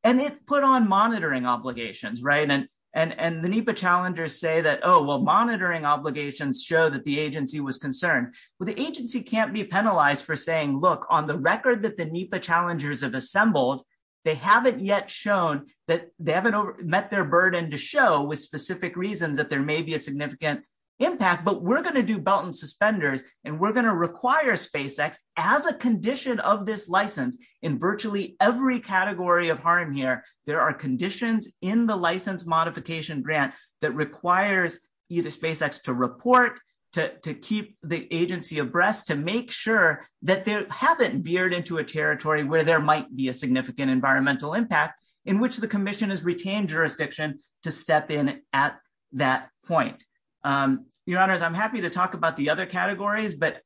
And it put on monitoring obligations, Right? And the NEPA Challengers say that, oh, well, monitoring Obligations show that the agency was Concerned. Well, the agency can't be Penalized for saying, look, on the record That the NEPA challengers have assembled, They haven't yet shown That they haven't met their burden To show with specific reason that there May be a significant impact, but We're going to do belt and suspenders, and We're going to require SpaceX, as A condition of this license, in Virtually every category of harm Here, there are conditions in The license modification grant That requires either SpaceX To report, to keep The agency abreast, to make sure That they haven't veered into A territory where there might be a significant Environmental impact, in which the commission Has retained jurisdiction to Step in at that point. Your honors, I'm happy To talk about the other categories, but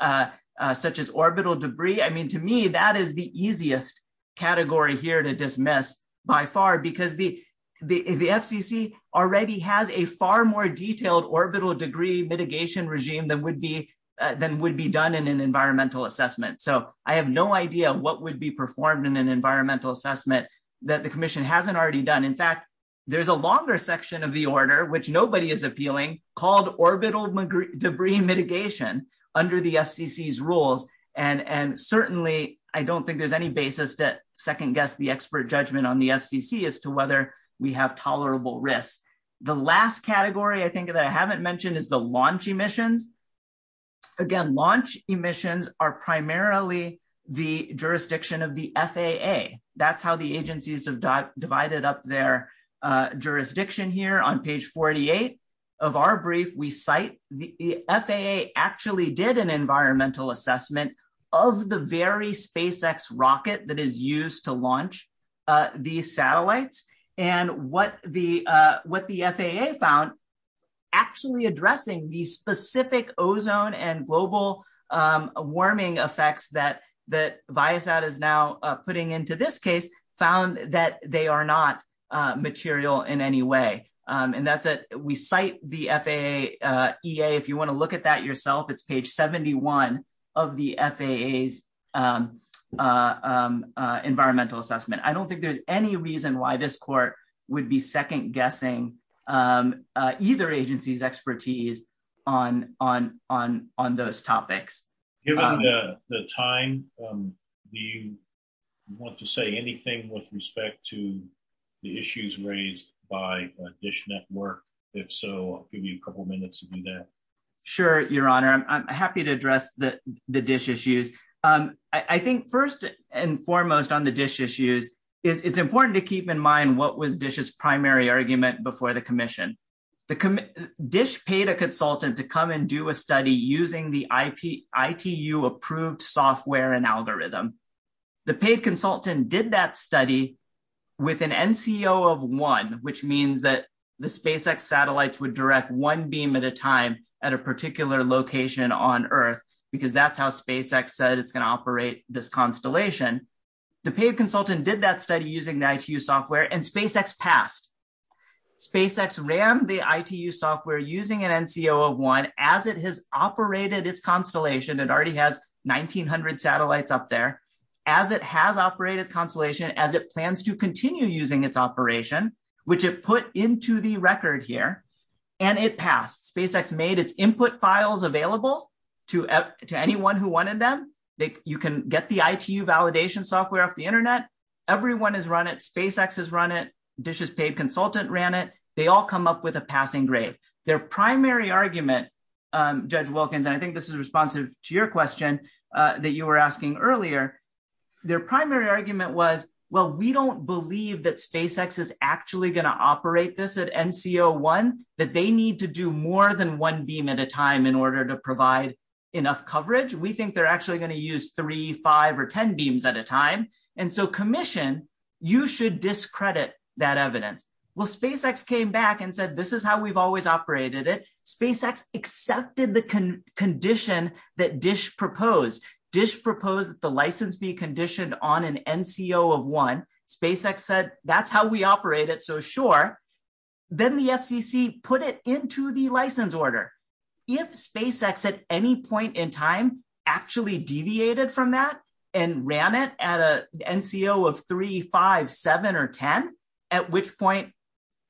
Other categories, such as Orbital debris, I mean, to me, that Is the easiest category Here to dismiss, by far, Because the FCC Already has a far more Detailed orbital debris mitigation Regime than would be Done in an environmental assessment. So I have no idea what would be Performed in an environmental assessment That the commission hasn't already done. In fact, There's a longer section of the order, Which nobody is appealing, called Orbital debris mitigation Under the FCC's rules And certainly, I don't think there's any basis that second Guess the expert judgment on the FCC As to whether we have tolerable Risk. The last category I think that I haven't mentioned is the launch Emissions. Again, Launch emissions are primarily The jurisdiction of The FAA. That's how the agencies Have divided up their Jurisdiction here. On page 48 of our brief, We cite the FAA Actually did an environmental assessment Of the very SpaceX rocket that is used To launch these Satellites. And what The FAA found Actually addressing The specific ozone and global Warming effects That Viasat is Now putting into this case Found that they are not Using this material In any way. And that's We cite the FAA EA. If you want to look at that yourself, it's Page 71 of the FAA's Environmental assessment. I don't think there's any reason why this Court would be second guessing Either agency's Expertise on Those topics. Given the time, Do you want To say anything with respect to The issues raised by DISH network? If so, I'll give you a couple minutes to do that. Sure, your honor. I'm happy to Address the DISH issues. I think first and Foremost on the DISH issues, It's important to keep in mind what was DISH's primary argument before the commission. DISH Paid a consultant to come and do a study Using the ITU Approved software and algorithm. The paid consultant did that Study with an NCO Of one, which means that The SpaceX satellites would direct one Beam at a time at a particular Location on Earth because That's how SpaceX said it's going to operate This constellation. The Paid consultant did that study using the ITU Software and SpaceX passed. SpaceX ran the ITU software using an NCO Of one as it has operated This constellation. It already has 1900 satellites up there. As it has operated this constellation, As it plans to continue using Its operation, which it put Into the record here, And it passed. SpaceX made its input Files available to Anyone who wanted them. You can get the ITU validation software Off the internet. Everyone has run it. SpaceX has run it. DISH's Paid consultant ran it. They all come up With a passing grade. Their primary Argument, Judge Wilkins, And I think this is responsive to your question That you were asking earlier, Their primary argument was Well, we don't believe that SpaceX Is actually going to operate this At NCO one, that they need To do more than one beam at a time In order to provide enough Coverage. We think they're actually going to use Three, five, or ten beams at a time. And so commission, you Should discredit that evidence. Well, SpaceX came back and said This is how we've always operated it. SpaceX accepted the Condition that DISH proposed. DISH proposed that the license Be conditioned on an NCO Of one. SpaceX said that's How we operate it, so sure. Then the FCC put it Into the license order. If SpaceX at any point In time actually deviated From that and ran it At an NCO of three, five, Seven, or ten, at which Point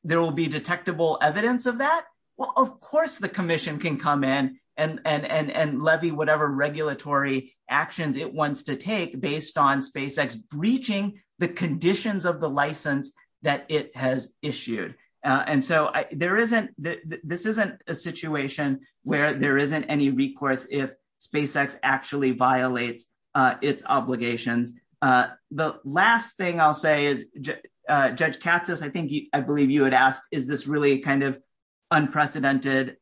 there will be detectable Evidence of that, well, of course The commission can come in and Levy whatever regulatory Actions it wants to take Based on SpaceX breaching The conditions of the license That it has issued. And so there isn't This isn't a situation where There isn't any recourse if SpaceX actually violates Its obligations. The last thing I'll say is Judge Katsas, I think I believe you had asked, is this Really kind of unprecedented?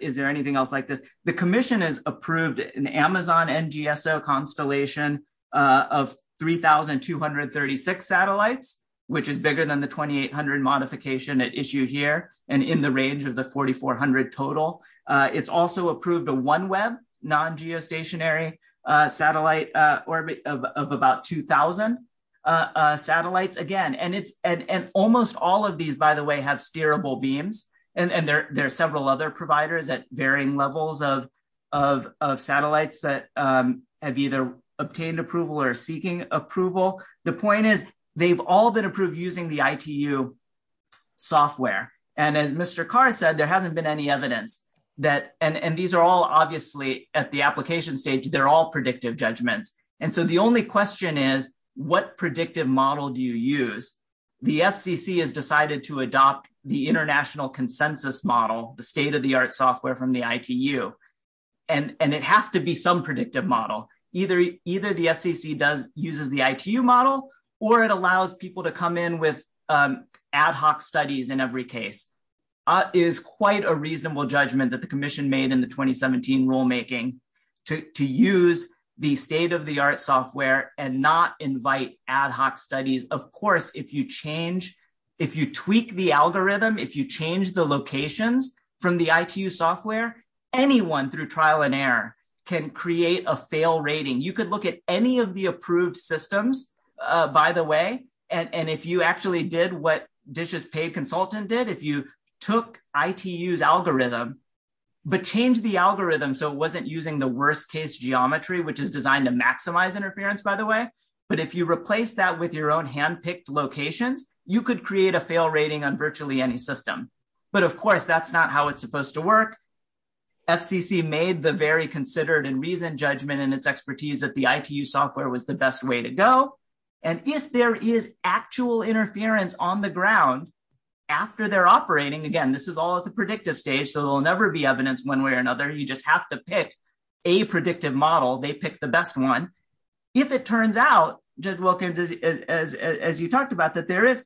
Is there anything else like this? The commission has approved an Amazon NGSO constellation Of 3,236 Satellites, which is Bigger than the 2,800 modification It issued here and in the range Of the 4,400 total. It's also approved a OneWeb Non-geostationary satellite Orbit of about 2,000 satellites. And almost all Of these, by the way, have steerable beams And there are several other Providers at varying levels of Satellites that Have either obtained approval Or are seeking approval. The point is, they've all been approved Using the ITU Software. And as Mr. Carr said, There hasn't been any evidence And these are all obviously At the application stage, they're all predictive Judgments. And so the only question Is, what predictive model Do you use? The FCC Has decided to adopt the international Consensus model, the state Of the art software from the ITU. And it has to be some Predictive model. Either The FCC uses the ITU model Or it allows people to come in With ad hoc studies In every case. It is quite a reasonable judgment that the commission Made in the 2017 rulemaking To use the State of the art software and not Invite ad hoc studies. Of course, if you change If you tweak the algorithm, if you Change the locations from The ITU software, anyone Through trial and error can create A fail rating. You could look at any Of the approved systems, By the way, and if you Actually did what DishesPay Consultant did, if you took ITU's algorithm But changed the algorithm so it wasn't Using the worst-case geometry, which Is designed to maximize interference, by the way, But if you replace that with your own Hand-picked location, you could Create a fail rating on virtually any system. But, of course, that's not how it's Supposed to work. FCC Made the very considered and reasoned Judgment in its expertise that the ITU Software was the best way to go. And if there is actual Interference on the ground After they're operating, again, this is All at the predictive stage, so there will never be evidence One way or another. You just have to pick A predictive model. They picked the best One. If it turns out As you Talked about, that there is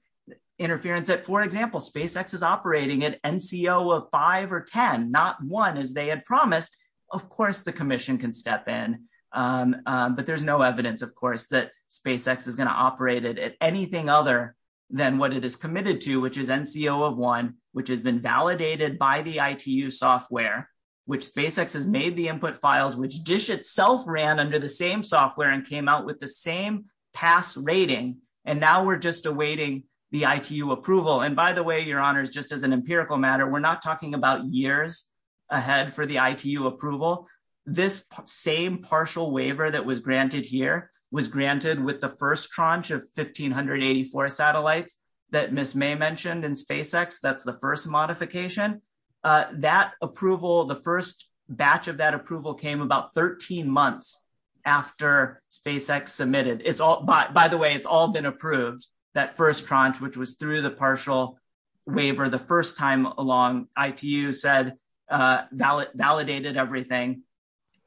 interference That, for example, SpaceX is operating At NCO of 5 or 10, Not 1, as they had promised, Of course the commission can step in. But there's no evidence, Of course, that SpaceX is going to Operate it at anything other Than what it is committed to, which is NCO Of 1, which has been validated By the ITU software, Which SpaceX has made the input files, Which DISH itself ran under the same Software and came out with the same Pass rating, and now we're Just awaiting the ITU approval. And, by the way, your honors, just as an Empirical matter, we're not talking about years Ahead for the ITU approval. This same Partial waiver that was granted here Was granted with the first Tranche of 1,584 satellites That Ms. May mentioned in SpaceX, That's the first modification, That approval, the first Batch of that approval came about 13 months after SpaceX submitted. By the way, it's all been approved, That first tranche, which was through the partial Waiver the first time Along ITU said Validated everything.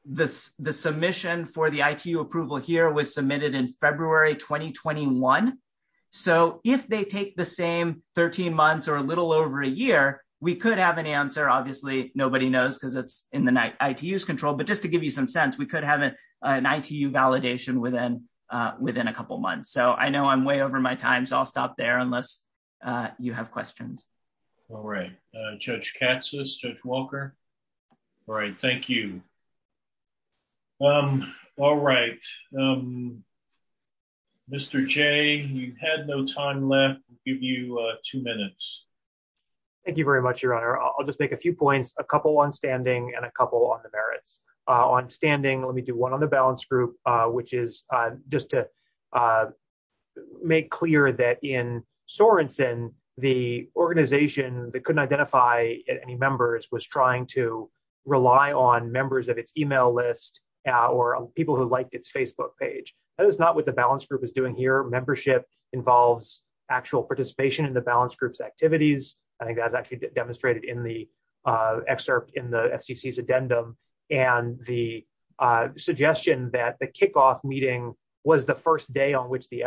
The submission For the ITU approval here was Submitted in February 2021, So if they take The same 13 months or a little Over a year, we could have an answer. Obviously, nobody knows because it's In the ITU's control, but just to give you some Sense, we could have an ITU Validation within a couple Months. So I know I'm way over my time, So I'll stop there unless You have questions. All right. Judge Katsas, Judge Walker? All right. Thank you. All right. Mr. Jay, You've had no time left. I'll give you two minutes. Thank you very much, Your Honor. I'll just take A few points, a couple on standing and a Couple on the merits. On standing, Let me do one on the balance group, Which is just to Make clear that In Sorenson, The organization that couldn't identify Any members was trying To rely on members Of its email list or People who liked its Facebook page. That is not what the balance group is doing here. Membership involves Actual participation in the balance group's activities. I think that was actually demonstrated In the excerpt in the FCC's addendum, and The suggestion that The kickoff meeting was the First day on which the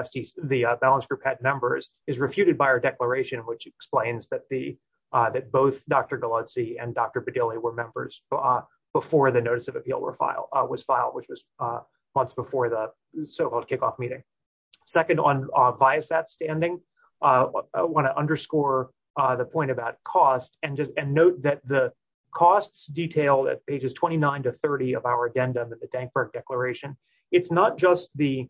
balance Group had members is refuted by our Declaration, which explains that Both Dr. Galuzzi and Dr. Bedilli were members Before the notice of appeal was Filed, which was months before The so-called kickoff meeting. Second, on bias at standing, I want to underscore The point about cost and Note that the costs Detailed at pages 29 to 30 Of our addendum of the Dankberg Declaration. It's not just the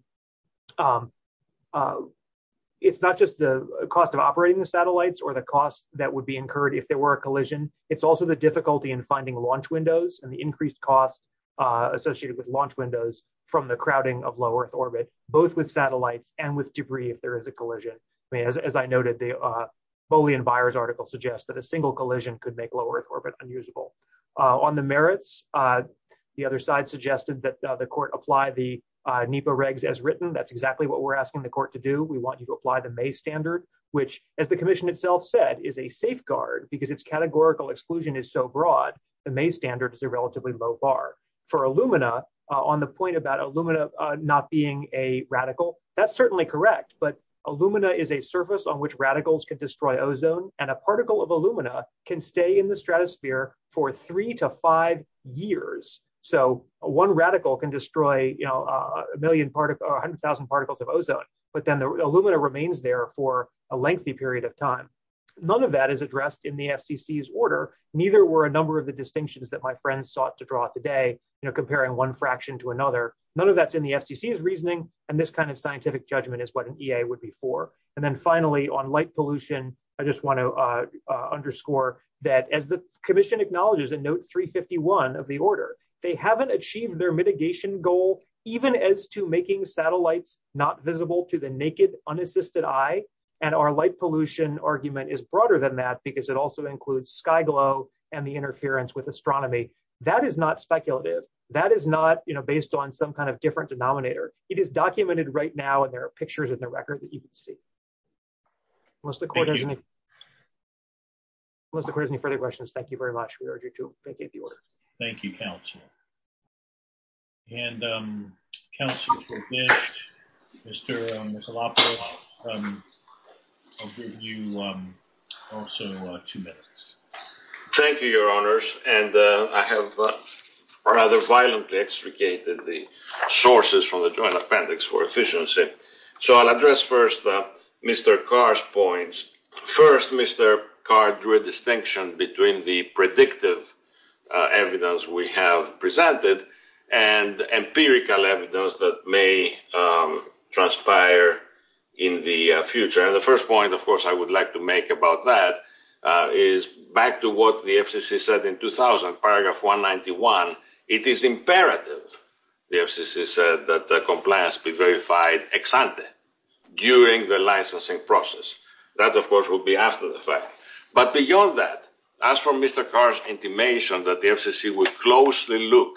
It's not just the cost of Operating the satellites or the cost that would Be incurred if there were a collision. It's also The difficulty in finding launch windows And the increased costs associated With launch windows from the crowding Of low-earth orbit, both with satellites And with debris if there is a collision. As I noted, the Bowley and Byers article suggests that a single collision Could make low-earth orbit unusable. On the merits, The other side suggested that the court Apply the NEPA regs as written. That's exactly what we're asking the court to do. We want to apply the May standard, which As the commission itself said, is a safeguard Because its categorical exclusion Is so broad. The May standard Is a relatively low bar. For Illumina, On the point about Illumina Not being a radical, That's certainly correct, but Illumina Is a surface on which radicals can destroy Ozone, and a particle of Illumina Can stay in the stratosphere For three to five years. So one radical can Destroy a million Particles of ozone, but then Illumina remains there for a lengthy Period of time. None of that Is addressed in the FCC's order. Neither were a number of the distinctions that my Friends sought to draw today, you know, comparing One fraction to another. None of that's in The FCC's reasoning, and this kind of scientific Judgment is what an EA would be for. And then finally, on light pollution, I just want to underscore That as the commission acknowledges In note 351 of the order, They haven't achieved their mitigation goal Even as to making Satellites not visible to the naked Unassisted eye, and our Light pollution argument is broader Than that, because it also includes sky glow And the interference with astronomy. That is not speculative. That is not, you know, based on some kind of Different denominator. It is documented right Now, and there are pictures in the record that you can see. Thank you. Unless the court has any further questions, thank you very much. We are adjourned. Thank you. Thank you, counsel. And counsel, Mr. Michelopoulos, I'll give you Also two minutes. Thank you, your honors, and I have rather violently Extricated the Sources from the Joint Appendix for Efficiency, so I'll address first Mr. Carr's points. First, Mr. Carr Drew a distinction between the predictive Evidence we Have presented, and Empirical evidence that may Transpire In the future, and the first point, of course, I would like to make about that Is back to what the FCC Said in 2000, paragraph 191, it is imperative The FCC said that Compliance be verified Ex ante during the licensing Process. That, of course, will be After the fact. But beyond that, As for Mr. Carr's intimation That the FCC will closely look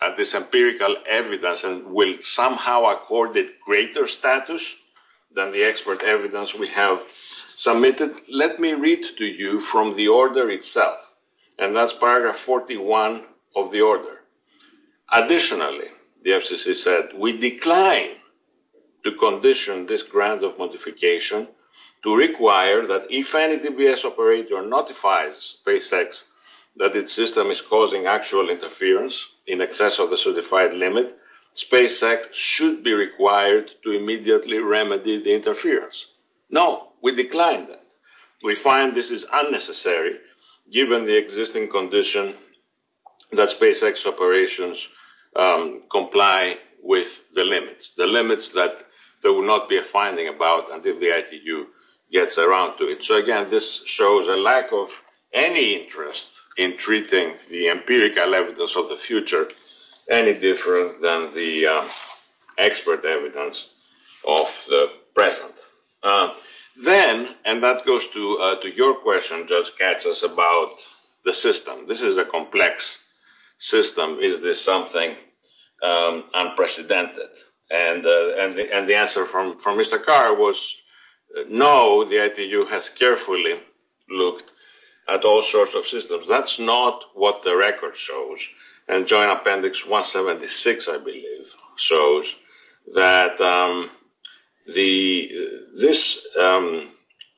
At this empirical evidence And will somehow accord it Greater status than the Expert evidence we have Submitted, let me read to you From the order itself, and That's paragraph 41 of The order. Additionally, The FCC said, we Decline to condition This grant of modification To require that if any DBS operator notifies SpaceX that its system is Causing actual interference in Access of the certified limit, SpaceX should be required To immediately remedy the Interference. No, we Decline that. We find this is Unnecessary, given the Existing condition That SpaceX operations Comply with The limits. The limits that There will not be a finding about until The ITU gets around to it. So, again, this shows a lack of Any interest in treating The empirical evidence of the future Any different than the Expert evidence Of the present. Then, and That goes to your question, Judge Katsos, about the System. This is a complex System. Is this something Unprecedented? And the answer From Mr. Carr was No, the ITU has carefully Looked at all Sort of systems. That's not what The record shows. And Joint Appendix 176, I believe, Shows that The This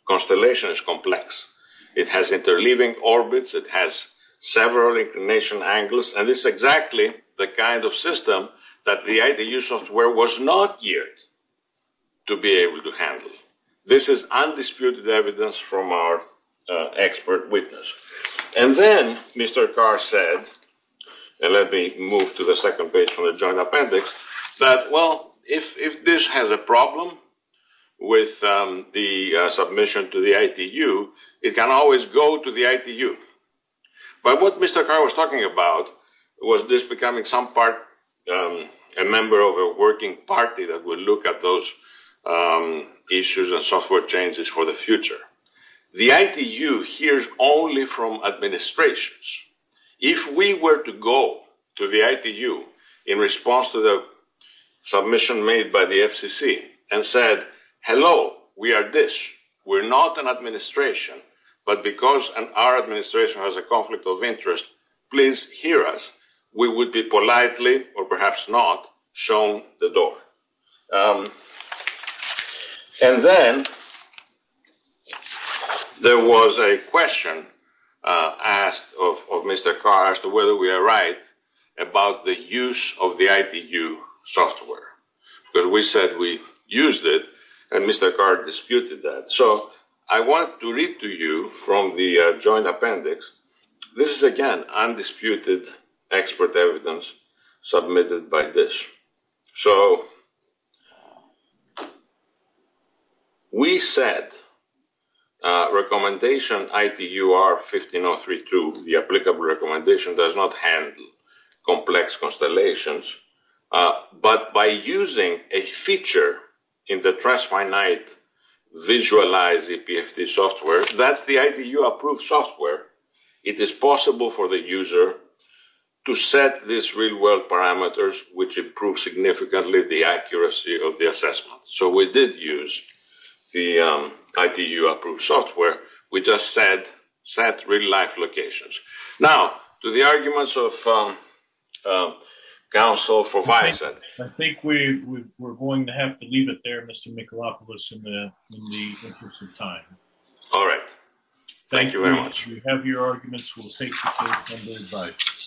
Constellation is complex. It has interleaving orbits, it has Several inclination angles, And it's exactly the kind of System that the ITU software Was not geared To be able to handle. This is undisputed evidence from Our expert witness. And then Mr. Carr Said, and let me Move to the second page from the Joint Appendix, That, well, if This has a problem With the submission To the ITU, it can always Go to the ITU. But what Mr. Carr was talking about Was this becoming some part A member of a working Party that would look at those Issues and software Changes for the future. The ITU hears only from Administrations. If we were to go to the ITU in response to the Submission made by the FCC and said, Hello, we are this. We're not an administration, but Because our administration has a conflict Of interest, please hear us. We would be politely, Or perhaps not, shown the door. And then There was A question Asked of Mr. Carr As to whether we are right About the use of the ITU software. Because we said we used it And Mr. Carr disputed that. So I want to read to you From the Joint Appendix. This is, again, undisputed Expert evidence Submitted by this. So We said Recommendation ITU-R-15032 The applicable recommendation does not handle Complex constellations. But by Using a feature In the Transfinite Visualized EPFT software That's the ITU-approved software. It is possible for the user To set These real-world parameters Which improve significantly The accuracy of the assessment. So we did use The ITU-approved software. We just said Set real-life locations. Now, to the arguments of Council for bystanders. I think we're going to have to Leave it there, Mr. Michalopoulos, In the interest of time. All right. Thank you very much. If you have your arguments, we'll take them. Thank you very much.